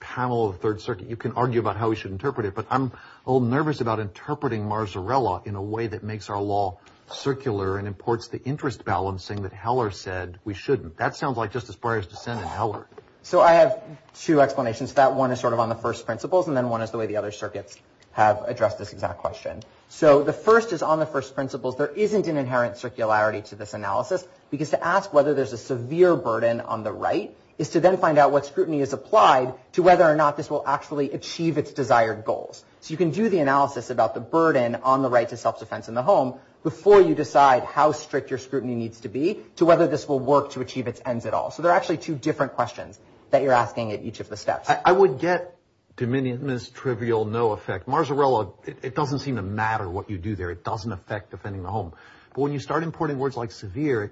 panel of the Third Circuit, you can argue about how we should interpret it. But I'm all nervous about interpreting Marzarella in a way that makes our law circular and imports the interest balancing that Heller said we shouldn't. That sounds like Justice Breyer's dissent in Heller. So I have two explanations for that. One is sort of on the first principles, and then one is the way the other circuits have addressed this exact question. So the first is on the first principles. There isn't an inherent circularity to this analysis because to ask whether there's a severe burden on the right is to then find out what scrutiny is applied to whether or not this will actually achieve its desired goals. So you can do the analysis about the burden on the right to self-defense in the home before you decide how strict your scrutiny needs to be to whether this will work to achieve its ends at all. So there are actually two different questions that you're asking at each of the steps. I would get dominionist, trivial, no effect. Marzarella, it doesn't seem to matter what you do there. It doesn't affect defending the home. But when you start importing words like severe,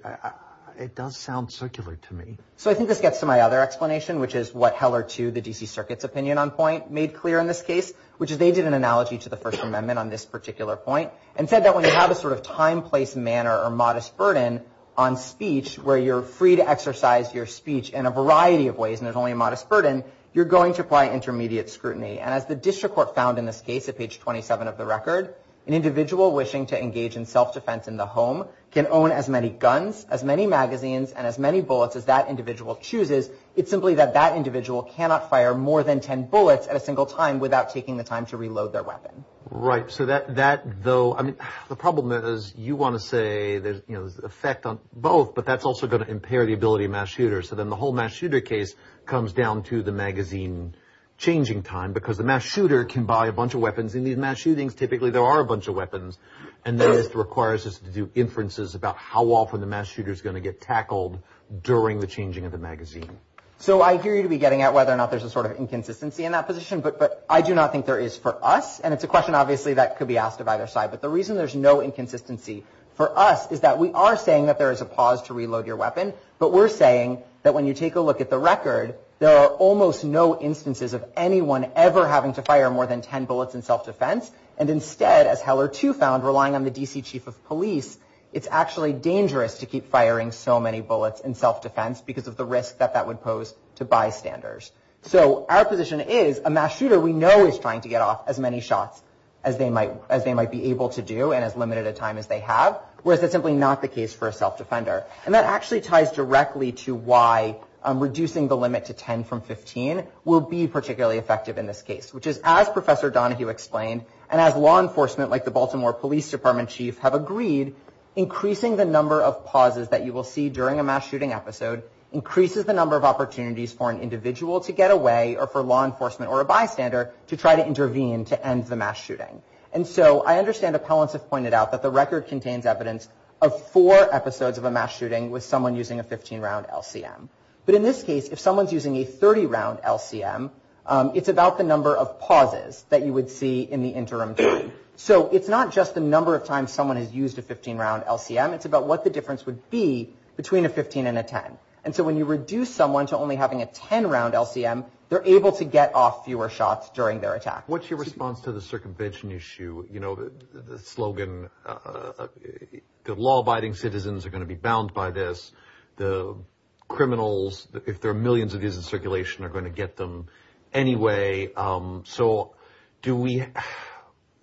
it does sound circular to me. So I think this gets to my other explanation, which is what Heller, too, the D.C. Circuit's opinion on point made clear in this case, which is they did an analogy to the First Amendment on this particular point and said that when you have a sort of time, place, manner, or modest burden on speech where you're free to exercise your speech in a variety of ways and there's only a modest burden, you're going to apply intermediate scrutiny. And as the district court found in this case at page 27 of the record, an individual wishing to engage in self-defense in the home can own as many guns, as many magazines, and as many bullets as that individual chooses. It's simply that that individual cannot fire more than 10 bullets at a single time without taking the time to reload their weapon. Right. So that, though, I mean, the problem is you want to say there's, you know, effect on both, but that's also going to impair the ability of mass shooters. So then the whole mass shooter case comes down to the magazine changing time because the mass shooter can buy a bunch of weapons. In these mass shootings, typically, there are a bunch of weapons. And then it requires us to do inferences about how often the mass shooter's going to get So I hear you to be getting at whether or not there's a sort of inconsistency in that position, but I do not think there is for us. And it's a question, obviously, that could be asked of either side. But the reason there's no inconsistency for us is that we are saying that there is a pause to reload your weapon, but we're saying that when you take a look at the record, there are almost no instances of anyone ever having to fire more than 10 bullets in self-defense. And instead, as Heller too found, relying on the D.C. Chief of Police, it's actually dangerous to keep firing so many bullets in self-defense because of the risk that that would pose to bystanders. So our position is, a mass shooter, we know is trying to get off as many shots as they might be able to do in as limited a time as they have, whereas it's simply not the case for a self-defender. And that actually ties directly to why reducing the limit to 10 from 15 will be particularly effective in this case, which is, as Professor Donahue explained, and as law enforcement, like the Baltimore Police Department Chief, have agreed, increasing the number of pauses that you will see during a mass shooting episode increases the number of opportunities for an individual to get away or for law enforcement or a bystander to try to intervene to end the mass shooting. And so I understand appellants have pointed out that the record contains evidence of four episodes of a mass shooting with someone using a 15-round LCM. But in this case, if someone's using a 30-round LCM, it's about the number of pauses that you would see in the interim time. So it's not just the number of times someone has used a 15-round LCM. It's about what the difference would be between a 15 and a 10. And so when you reduce someone to only having a 10-round LCM, they're able to get off fewer shots during their attack. What's your response to the circumvention issue? You know, the slogan, the law-abiding citizens are going to be bound by this. The criminals, if there are millions of these in circulation, are going to get them anyway. So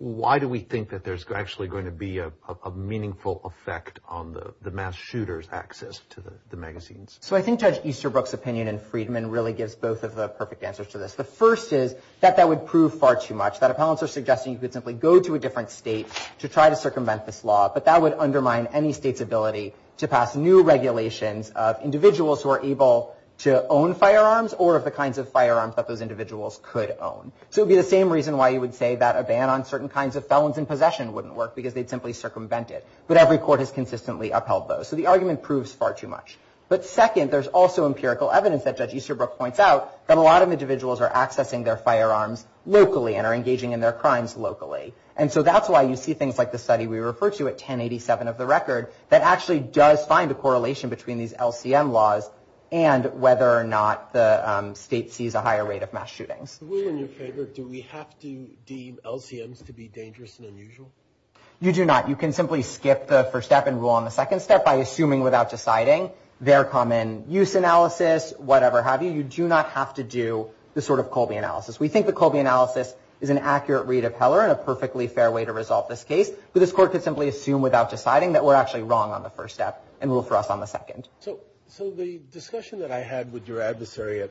why do we think that there's actually going to be a meaningful effect on the mass shooters' access to the magazines? So I think Judge Easterbrook's opinion and Friedman's really gives both of the perfect answers to this. The first is that that would prove far too much, that appellants are suggesting you could simply go to a different state to try to circumvent this law, but that would undermine any state's ability to pass new regulations of individuals who are able to own firearms or of the kinds of firearms that those individuals could own. So it would be the same reason why you would say that a ban on certain kinds of felons in possession wouldn't work because they'd simply circumvent it. But every court has consistently upheld those. So the argument proves far too much. But second, there's also empirical evidence that Judge Easterbrook points out that a lot of individuals are accessing their firearms locally and are engaging in their crimes locally. And so that's why you see things like the study we refer to at 1087 of the record that actually does find a correlation between these LCM laws and whether or not the state sees a higher rate of mass shootings. William, in your favor, do we have to deem LCMs to be dangerous and unusual? You do not. You can simply skip the first step and rule on the second step by assuming without deciding their common use analysis, whatever have you. You do not have to do the sort of Colby analysis. We think the Colby analysis is an accurate way to tell her and a perfectly fair way to resolve this case. But this court could simply assume without deciding that we're actually wrong on the first step and rule for us on the second. So the discussion that I had with your adversary I'm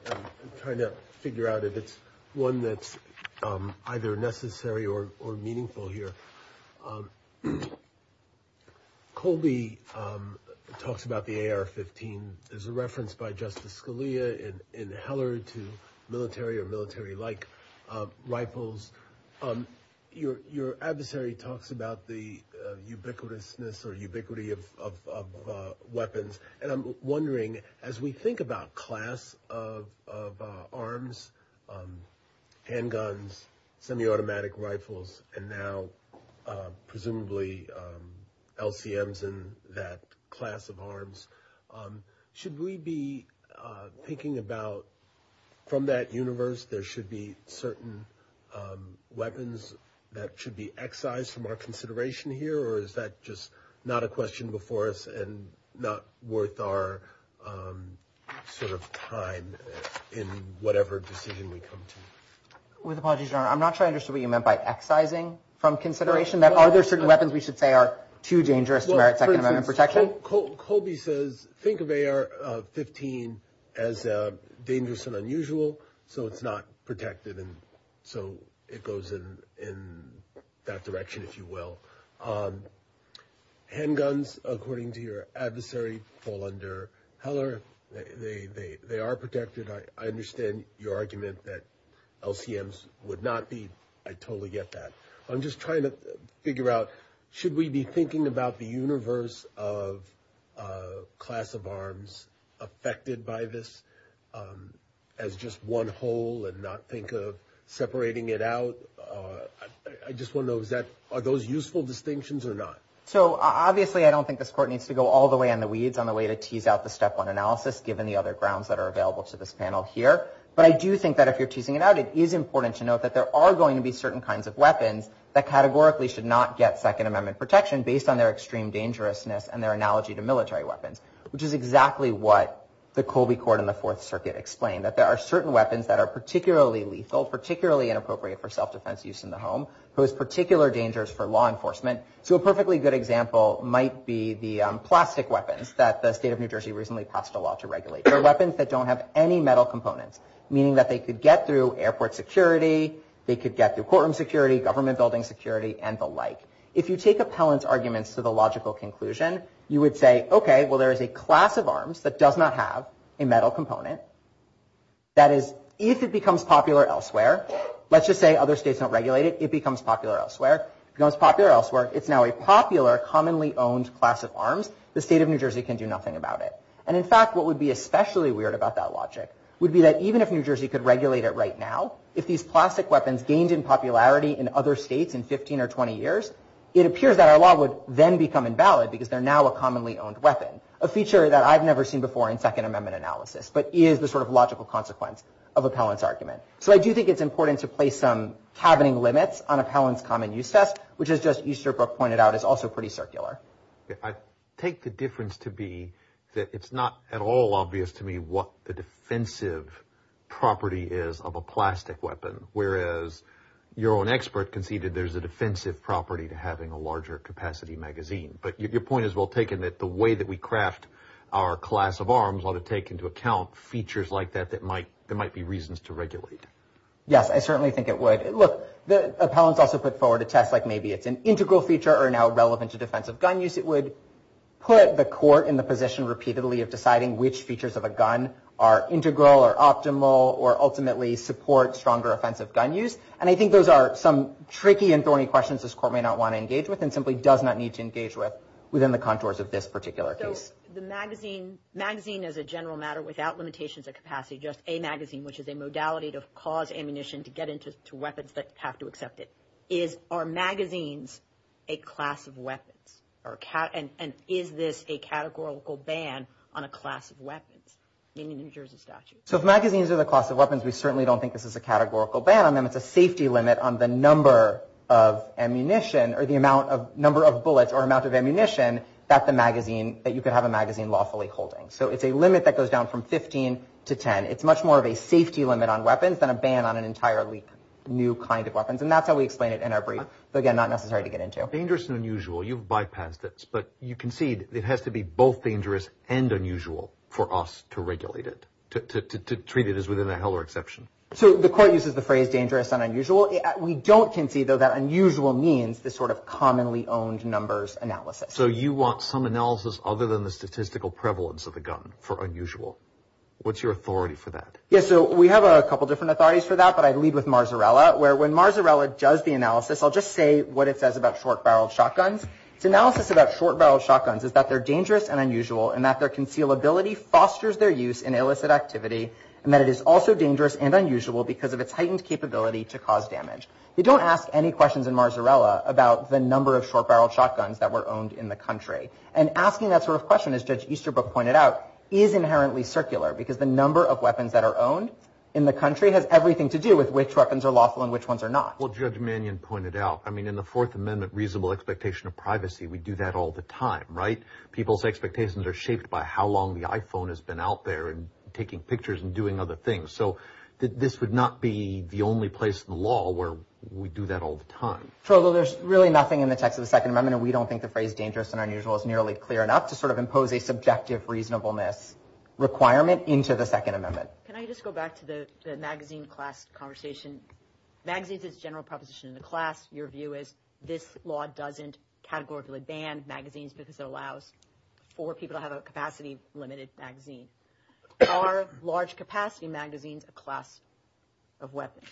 trying to figure out if it's one that's either necessary or meaningful here. Colby talks about the AR-15 as a reference by Justice Scalia and Heller to military or military-like rifles. Your adversary talks about the ubiquitousness or ubiquity of weapons. And I'm wondering, as we think about class of arms, handguns, semi-automatic rifles, and now presumably LVMs and that class of arms, should we be thinking about from that universe there should be certain weapons that should be excised from our consideration here or is that just not a question before us and not worth our sort of time in whatever decision we come to? With apologies, Your Honor, I'm not sure I understood what you meant by excising from consideration. Are there certain weapons we should say are too dangerous for our Second Amendment protection? Colby says think of AR-15 as dangerous and unusual so it's not protected and so it goes in that direction, if you will. Handguns, according to your adversary, fall under Heller. They are protected. I understand your argument that LCMs would not be. I totally get that. I'm just trying to figure out should we be thinking about the universe of class of arms affected by this as just one whole and not think of separating it out? I just want to know, are those useful distinctions or not? Obviously, I don't think this Court needs to go all the way on the weeds on the way to tease out the Step 1 analysis given the other grounds that are available to this panel here, but I do think that if you're teasing it out, it is important to note that there are going to be certain kinds of weapons that categorically should not get Second Amendment protection based on their extreme dangerousness and their analogy to military weapons, which is exactly what the Colby Court in the Fourth Circuit explained, that there are certain weapons that are particularly lethal, particularly inappropriate for self-defense use in the home, pose particular dangers for law enforcement. So a perfectly good example might be the plastic weapons that the state of New Jersey recently passed a law to regulate. They're weapons that don't have any metal components, meaning that they could get through airport security, they could get through courtroom security, government building security, and the like. If you take Appellant's arguments to the logical conclusion, you would say, okay, well there is a class of arms that does not have a metal component. That is, if it becomes popular elsewhere, let's just say other states don't regulate it, it becomes popular elsewhere. If it becomes popular elsewhere, it's now a popular, commonly owned class of arms. The state of New Jersey can do nothing about it. And in fact, what would be especially weird about that logic would be that even if New Jersey could regulate it right now, if these plastic weapons gained in popularity in other states in 15 or 20 years, it appears that our law would then become invalid because they're now a commonly owned weapon, a feature that I've never seen before in Second Amendment analysis, but is the sort of logical consequence of Appellant's argument. So I do think it's important to place some happening limits on Appellant's common use test, which as just Easterbrook pointed out, is also pretty circular. I take the difference to be that it's not at all obvious to me what the defensive property is of a plastic weapon, whereas your own expert can see that there's a defensive property to having a larger capacity magazine. But your point is well taken that the way that we craft our class of arms ought to take into account features like that that might be reasons to regulate. Yes, I certainly think it would. Look, Appellant also put forward a test like maybe if an integral feature are now relevant to defensive gun use, it would put the court in the position repeatedly of deciding which features of a gun are integral or optimal or ultimately support stronger offensive gun use. And I think those are some tricky and thorny questions this court may not want to engage with and simply does not need to engage with within the contours of this particular case. So the magazine as a general matter without limitation to capacity, just a magazine, which is a modality to cause ammunition to get into weapons that have to accept it. Is our magazines a class of weapons? And is this a categorical ban on a class of weapons? In the New Jersey statute. So if magazines are the class of weapons, we certainly don't think this is a categorical ban. I mean it's a safety limit on the number of ammunition or the number of bullets or amounts of ammunition that's a magazine that you could have a magazine lawfully holding. So it's a limit that goes down from 15 to 10. It's much more of a safety limit on weapons than a ban on an entirely new kind of weapons. And that's how we explain it in our brief. But again, not necessary to get into. Dangerous and unusual. You've bypassed this. But you concede it has to be both dangerous and unusual for us to regulate it. To treat it as within a Heller exception. So the court uses the phrase dangerous and unusual. We don't concede though that unusual means this sort of commonly owned numbers analysis. So you want some analysis other than the statistical prevalence of a gun for unusual. What's your authority for that? Yeah, so we have a couple different authorities for that. But I'd leave with Marzarella. Where when Marzarella does the analysis, I'll just say what it says about short barreled shotguns. Analysis about short barreled shotguns is that they're dangerous and unusual. And that their concealability fosters their use in illicit activity. And that it is also dangerous and unusual because of its heightened capability to cause damage. You don't ask any questions in Marzarella about the number of short barreled shotguns that were owned in the country. And asking that sort of question as Judge Easterbrook pointed out is inherently circular. Because the number of weapons that are owned in the country has everything to do with which weapons are lawful and which ones are not. Well Judge Mannion pointed out, I mean in the Fourth Amendment reasonable expectation of privacy. We do that all the time, right? People's expectations are shaped by how long the iPhone has been out there and taking pictures and doing other things. So this would not be the only place in the law where we do that all the time. So there's really nothing in the text of the Second Amendment and we don't think the phrase dangerous and unusual is nearly clear enough to sort of impose a subjective reasonableness requirement into the Second Amendment. Can I just go back to the magazine class conversation? Magazines is a general proposition in the class. Your view is this law doesn't categorically ban magazines because it allows for people to have a capacity to limit its magazine. Are large capacity magazines a class of weapons?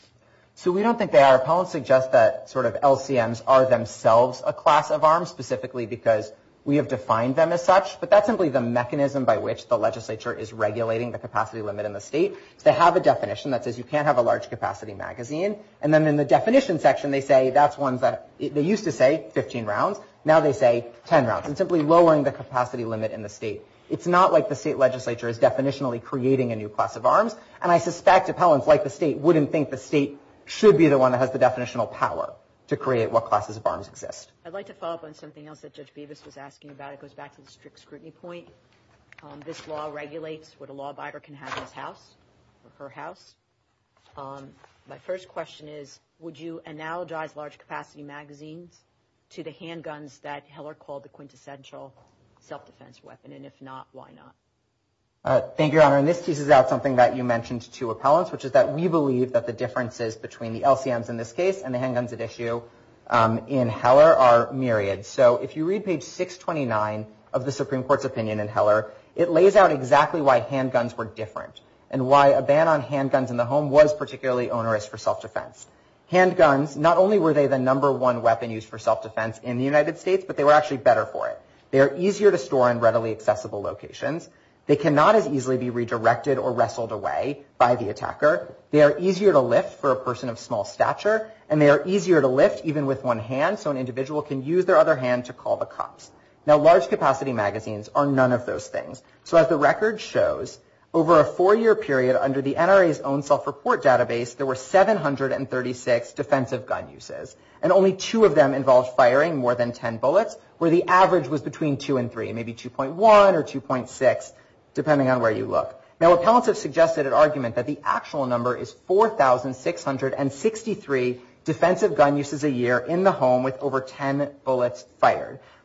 So we don't think they are. Appellants suggest that sort of LCMs are themselves a class of arms specifically because we have defined them as such. But that's simply the mechanism by which the legislature is regulating the capacity limit in the state. They have a definition that says you can't have a large capacity magazine and then in the definition section they say that's one that they used to say 15 rounds. Now they say 10 rounds and simply lowering the capacity limit in the state. It's not like the state legislature is definitionally creating a new class of arms and I suspect appellants like the state wouldn't think the state should be the one that has the definitional power to create what classes of arms exist. I'd like to follow up on something else that Judge Bavis was asking about. It goes back to the strict scrutiny point. This law regulates what a law buyer can have in his house or her house. My first question is would you analogize large capacity magazines to the handguns that Heller called the quintessential self-defense weapon and if not, why not? Thank you, Your Honor. And this teases out something that you mentioned to appellants which is that we believe that the differences between the LCMs in this case and the handguns at issue in Heller are myriad. So, if you read page 629 of the Supreme Court's opinion in Heller, it lays out exactly why handguns were different and why a ban on handguns in the home was particularly onerous for self-defense. Handguns, not only were they the number one weapon used for self-defense in the United States, but they were actually better for it. They are easier to store in readily accessible locations. They cannot as easily be redirected or wrestled away by the attacker. They are easier to lift for a person of small stature and they are easier to lift even with one hand so an individual can use their other hand to call the cops. Now, large capacity magazines are none of those things. So, as the record shows, over a four-year period under the NRA's own self-report database, there were 736 defensive gun uses and only two of them involved firing more than 10 bullets where the average was between two and three, maybe 2.1 or 2.6 depending on where you look. Now, appellatives suggested an argument that the actual number is 4,663 defensive gun uses a year for self-defense in the U.S.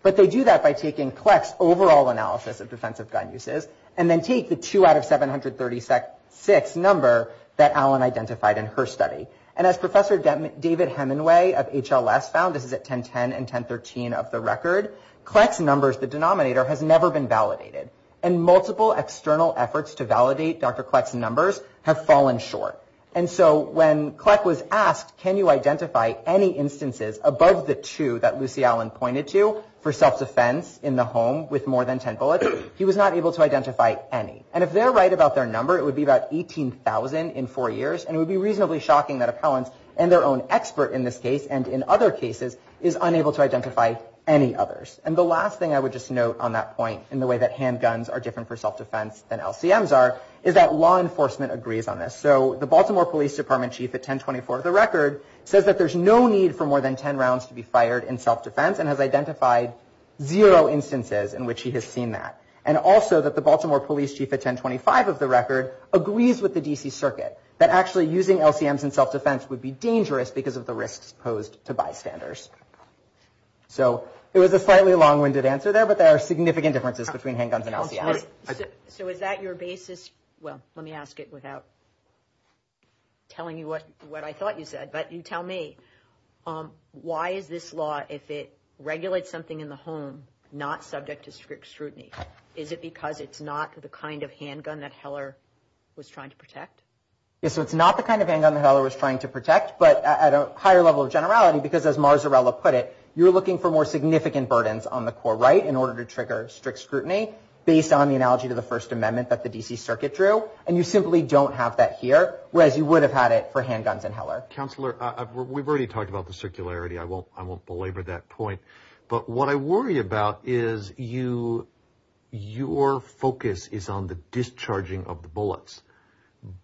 But they do that by taking CLEC's overall analysis of defensive gun uses and then take the 2 out of 736 number that Allen identified in her study. And as Professor David Hemenway of HLS found, this is at 1010 and 1013 of the record, CLEC's numbers, the denominator, have never been validated and multiple external efforts to validate Dr. CLEC's numbers have fallen short. And so, when CLEC was asked, can you identify any instances in which Dr. CLEC's numbers able to identify any instances above the two that Lucy Allen pointed to for self-defense in the home with more than 10 bullets, he was not able to identify any. And if they're right about their number, it would be about 18,000 in four years and it would be reasonably shocking that appellants and their own expert in this case and in other cases is unable to identify any others. And the last thing I would just note on that point in the way that handguns are different for self-defense than LCMs are is that law enforcement agrees on this. So, the Baltimore Police Department Chief at 1024 of the record says that there's no need for more than 10 rounds to be fired in self-defense and has identified zero instances in which he has seen that. And also, that the Baltimore Police Chief at 1025 of the record agrees with the D.C. Circuit that actually using LCMs in self-defense would be dangerous because of the risks posed to bystanders. So, it was a slightly long-winded answer there, but there are significant differences between handguns and LCMs. So, is that your basis? Well, let me ask it without telling you what I thought you said, but you tell me why is this law if it regulates something in the home not subject to strict scrutiny? Is it because it's not the kind of handgun that Heller was trying to protect? Yes, so it's not the kind of handgun that Heller was trying to protect, but at a higher level of generality because, as Marzarella put it, you're looking for more significant burdens on the core right in order to trigger strict scrutiny based on the analogy to the First Amendment that the D.C. Circuit drew and you simply don't have that here whereas you would have had it for handguns and Heller. Counselor, we've already talked about the circularity. I won't belabor that point, but what I worry about is your focus is on the discharging of the bullets,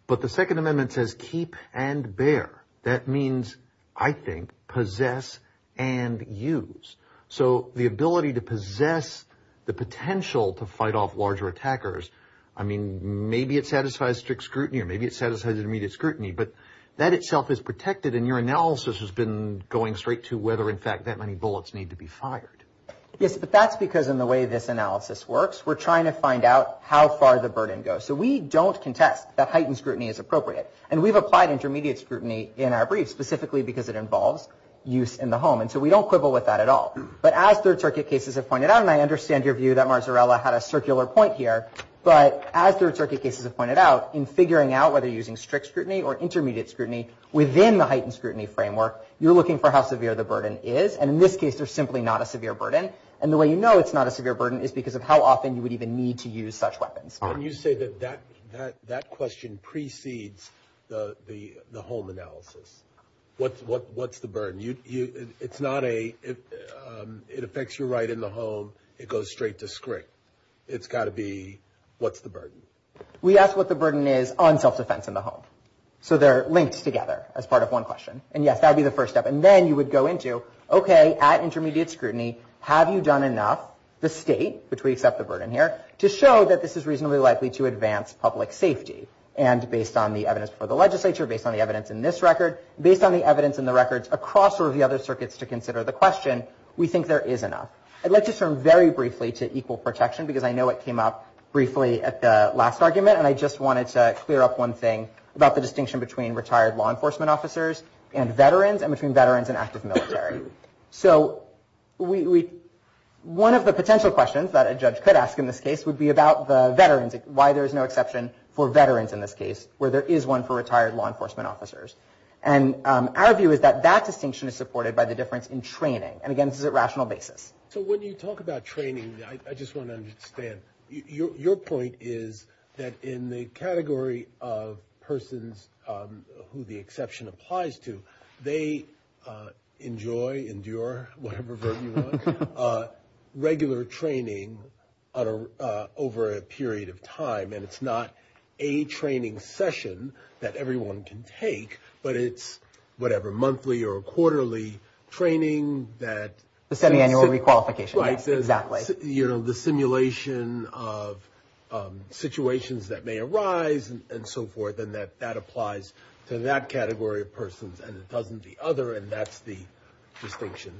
but the Second Amendment says, keep and bear. That means, I think, possess and use. So, the ability to possess the potential to fight off larger attackers, I mean, maybe it satisfies strict scrutiny or maybe it satisfies immediate scrutiny, but that itself is protected and your analysis has been going straight to whether, in fact, that many bullets need to be fired. Yes, but that's because in the way this analysis works, we're trying to find out how far the burden goes. So, we don't contest that heightened scrutiny as appropriate. And we've applied intermediate scrutiny in our briefs, specifically because it involves use in the home, and so we don't quibble with that at all. But as third-circuit cases have pointed out, and I understand your view that Marzarella had a circular point here, but as third-circuit cases have pointed out, in figuring out whether you're using strict scrutiny or intermediate scrutiny within the heightened scrutiny framework, you're looking for how severe the burden is, and in this case, there's simply not a severe burden, and the way you know it's not a severe burden is because of how often you would even need to use such weapons. When you say that that question precedes the home analysis, what's the burden? It's not a, it affects your right in the home, it goes straight to strict. It's got to be, what's the burden? We ask what the burden is on self-defense in the home. So, they're linked together as part of one question. And yes, And then, you would go into, okay, at intermediate scrutiny, have you done enough? The state, which we accept the burden, says, yes, we've done enough to show that this is reasonably likely to advance public safety. And based on the evidence for the legislature, based on the evidence in this record, based on the evidence in the records across the other circuits to consider the question, we think there is enough. I'd like to turn very briefly to equal protection because I know it came up briefly at the last argument, and I just wanted to clear up one thing about the distinction between retired law enforcement officers and veterans, and between veterans and active military. So, we, one of the potential questions that a judge could ask in this case would be about the veterans, why there is no exception for veterans in this case, where there is one for retired law enforcement officers. And our view is that that distinction is supported by the difference in training. And again, this is a rational basis. So, when you talk about training, I just want to understand, that in the category of persons who the exception applies to, they enjoy, endure, whatever verb you want, regular training on a regular basis is a good thing. And it's not over a period of time, and it's not a training session that everyone can take, but it's whatever, monthly or quarterly training that... The semi-annual requalification. Right. Exactly. You know, the simulation of situations that may arise and so forth, and that applies to that category of persons and it doesn't the other, and that's the distinction.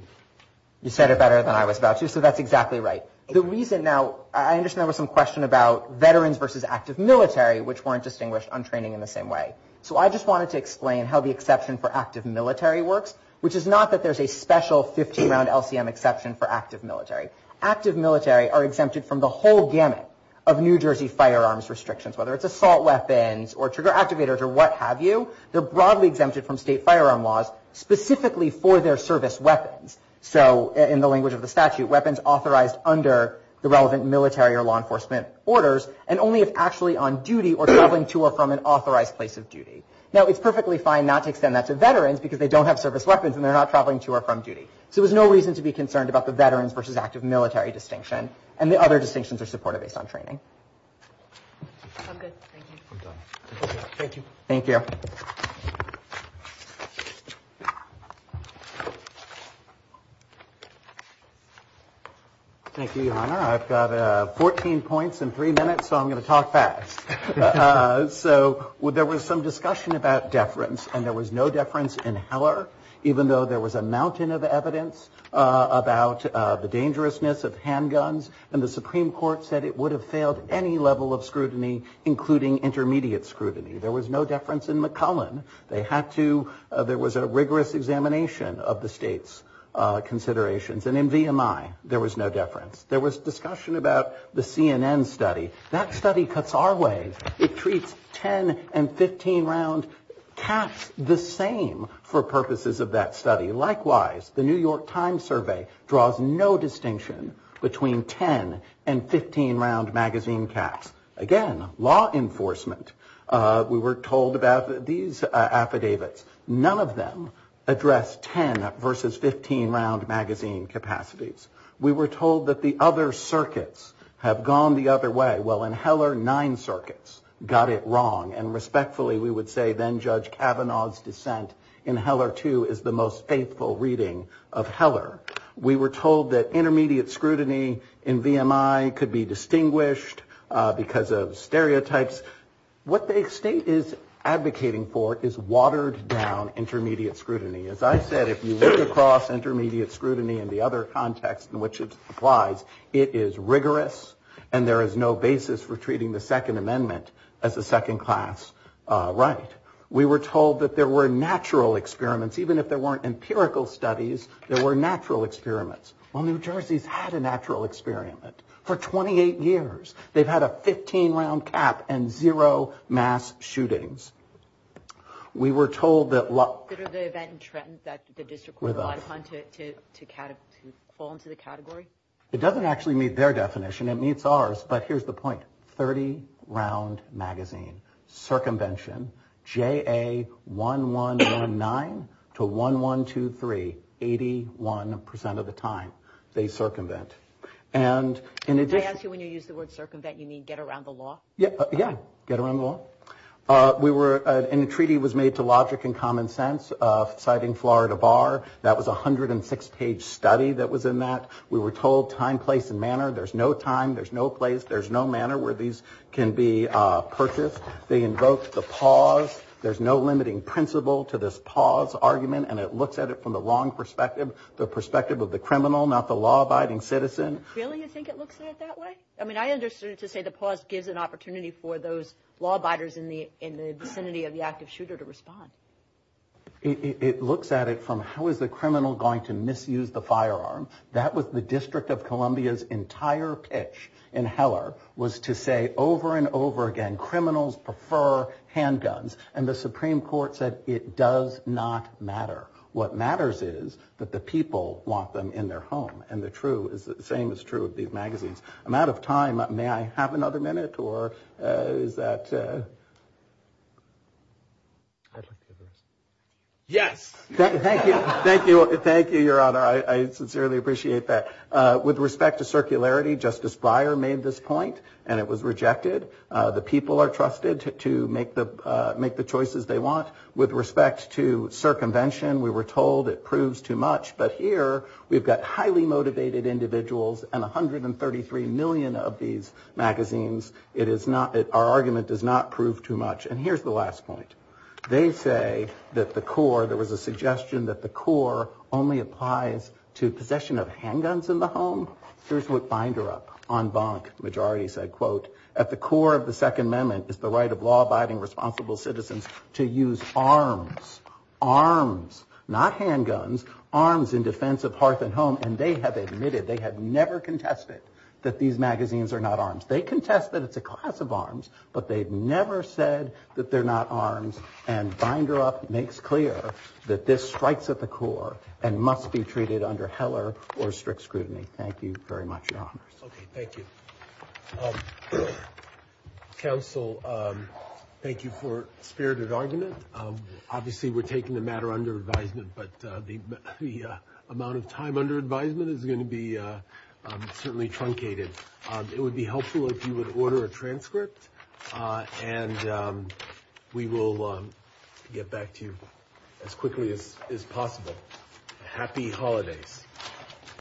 You said it better than I was about to, so that's exactly right. The reason now, I understand there was some question about veterans versus active military, which weren't distinguished on training in the same way. So, I just wanted to explain how the exception for active military works, which is not that there's a special 50-round LCM exception for active military. Active military are exempted from the whole gamut of New Jersey firearms restrictions, whether it's assault weapons or trigger activators or what have you. They're broadly exempted from state firearm laws, specifically for their service weapons. So, in the language of the statute, weapons authorized under the relevant military or law enforcement orders and only if actually on duty or traveling to or from an authorized place of duty. Now, it's perfectly fine not to extend that to veterans because they don't have service weapons and they're not traveling to or from duty. So, there's no reason to be concerned about the veterans versus active military distinction and the other distinctions are supported based on training. I'm good. Thank you. I'm done. Thank you. Thank you. Thank you, Your Honor. I've got 14 points in three minutes, so I'm going to talk fast. So, there was some discussion about deference and there was no deference in Heller even though there was a mountain of evidence about the dangerousness of handguns and the Supreme Court said it would have failed any level of scrutiny including intermediate scrutiny. There was no deference in McCullen. They had to, there was a rigorous examination of the state's considerations and in VMI there was no deference. There was discussion about the CNN study. That study cuts our way. It treats 10 and 15 round caps the same for purposes of that study. Likewise, the New York Times survey draws no distinction between 10 and 15 round magazine caps. Again, law enforcement, we were told about these affidavits. None of them address 10 versus 15 round magazine capacities. We were told that the other circuits have gone the other way. Well, in Heller, nine circuits got it wrong and respectfully we would say then Judge Cavanaugh's dissent in Heller 2 is the most wrong. Intermediate scrutiny in VMI could be distinguished because of stereotypes. What the state is advocating for is watered down intermediate scrutiny. As I said, if you look across intermediate scrutiny, it is rigorous and there is no basis for treating the second amendment as a second class right. We were told there were natural experiments even if there weren't empirical studies, there were natural experiments. Well, New Jersey has had a natural experiment for 28 years. They have had a 15 round cap and zero mass shootings. We were told that.......... there is no distribution.. It doesn't meet their definition. Here is the point 30 round magazine cum comm comm. J A... Summary strongly support this argument. That was a 106 page study. We were told time place and manner. There is in he be purpose. There are no limiting principles and the perspective of the criminal not the law abiding citizen. It looks at it from how is the criminal going to misuse the firearm. That was the district of Columbia's entire pitch was to say over and over again criminals prefer handguns and the Supreme Court said it does not matter. What matters is the people want them in their home. I'm out of time. May I have another minute? Yes. Thank you, your honor. I sincerely appreciate that. With respect to circularity Justice Breyer made this point. It was rejected. The people are trusted to make the choices they want. With respect to circumvention we were told it proves too much. Here we have highly motivated individuals and 133 million of these magazines. Our argument does not prove too much. Here is the last point. They say that the core only applies to possession of handguns in the home. At the core of the second amendment is the right to use arms, arms, not handguns, arms in defense of hearth and home. They have never contested that these magazines are not for possession of firearms. Binder makes clear this strikes at the core and must be treated under strict scrutiny. Thank you very much. Thank you. Council, thank you for spirited argument. We are taking the matter under advisement but the amount of time under advisement is going to be truncated. It would be helpful if you would order a transcript and we will get back to you as quickly as possible. Happy holidays.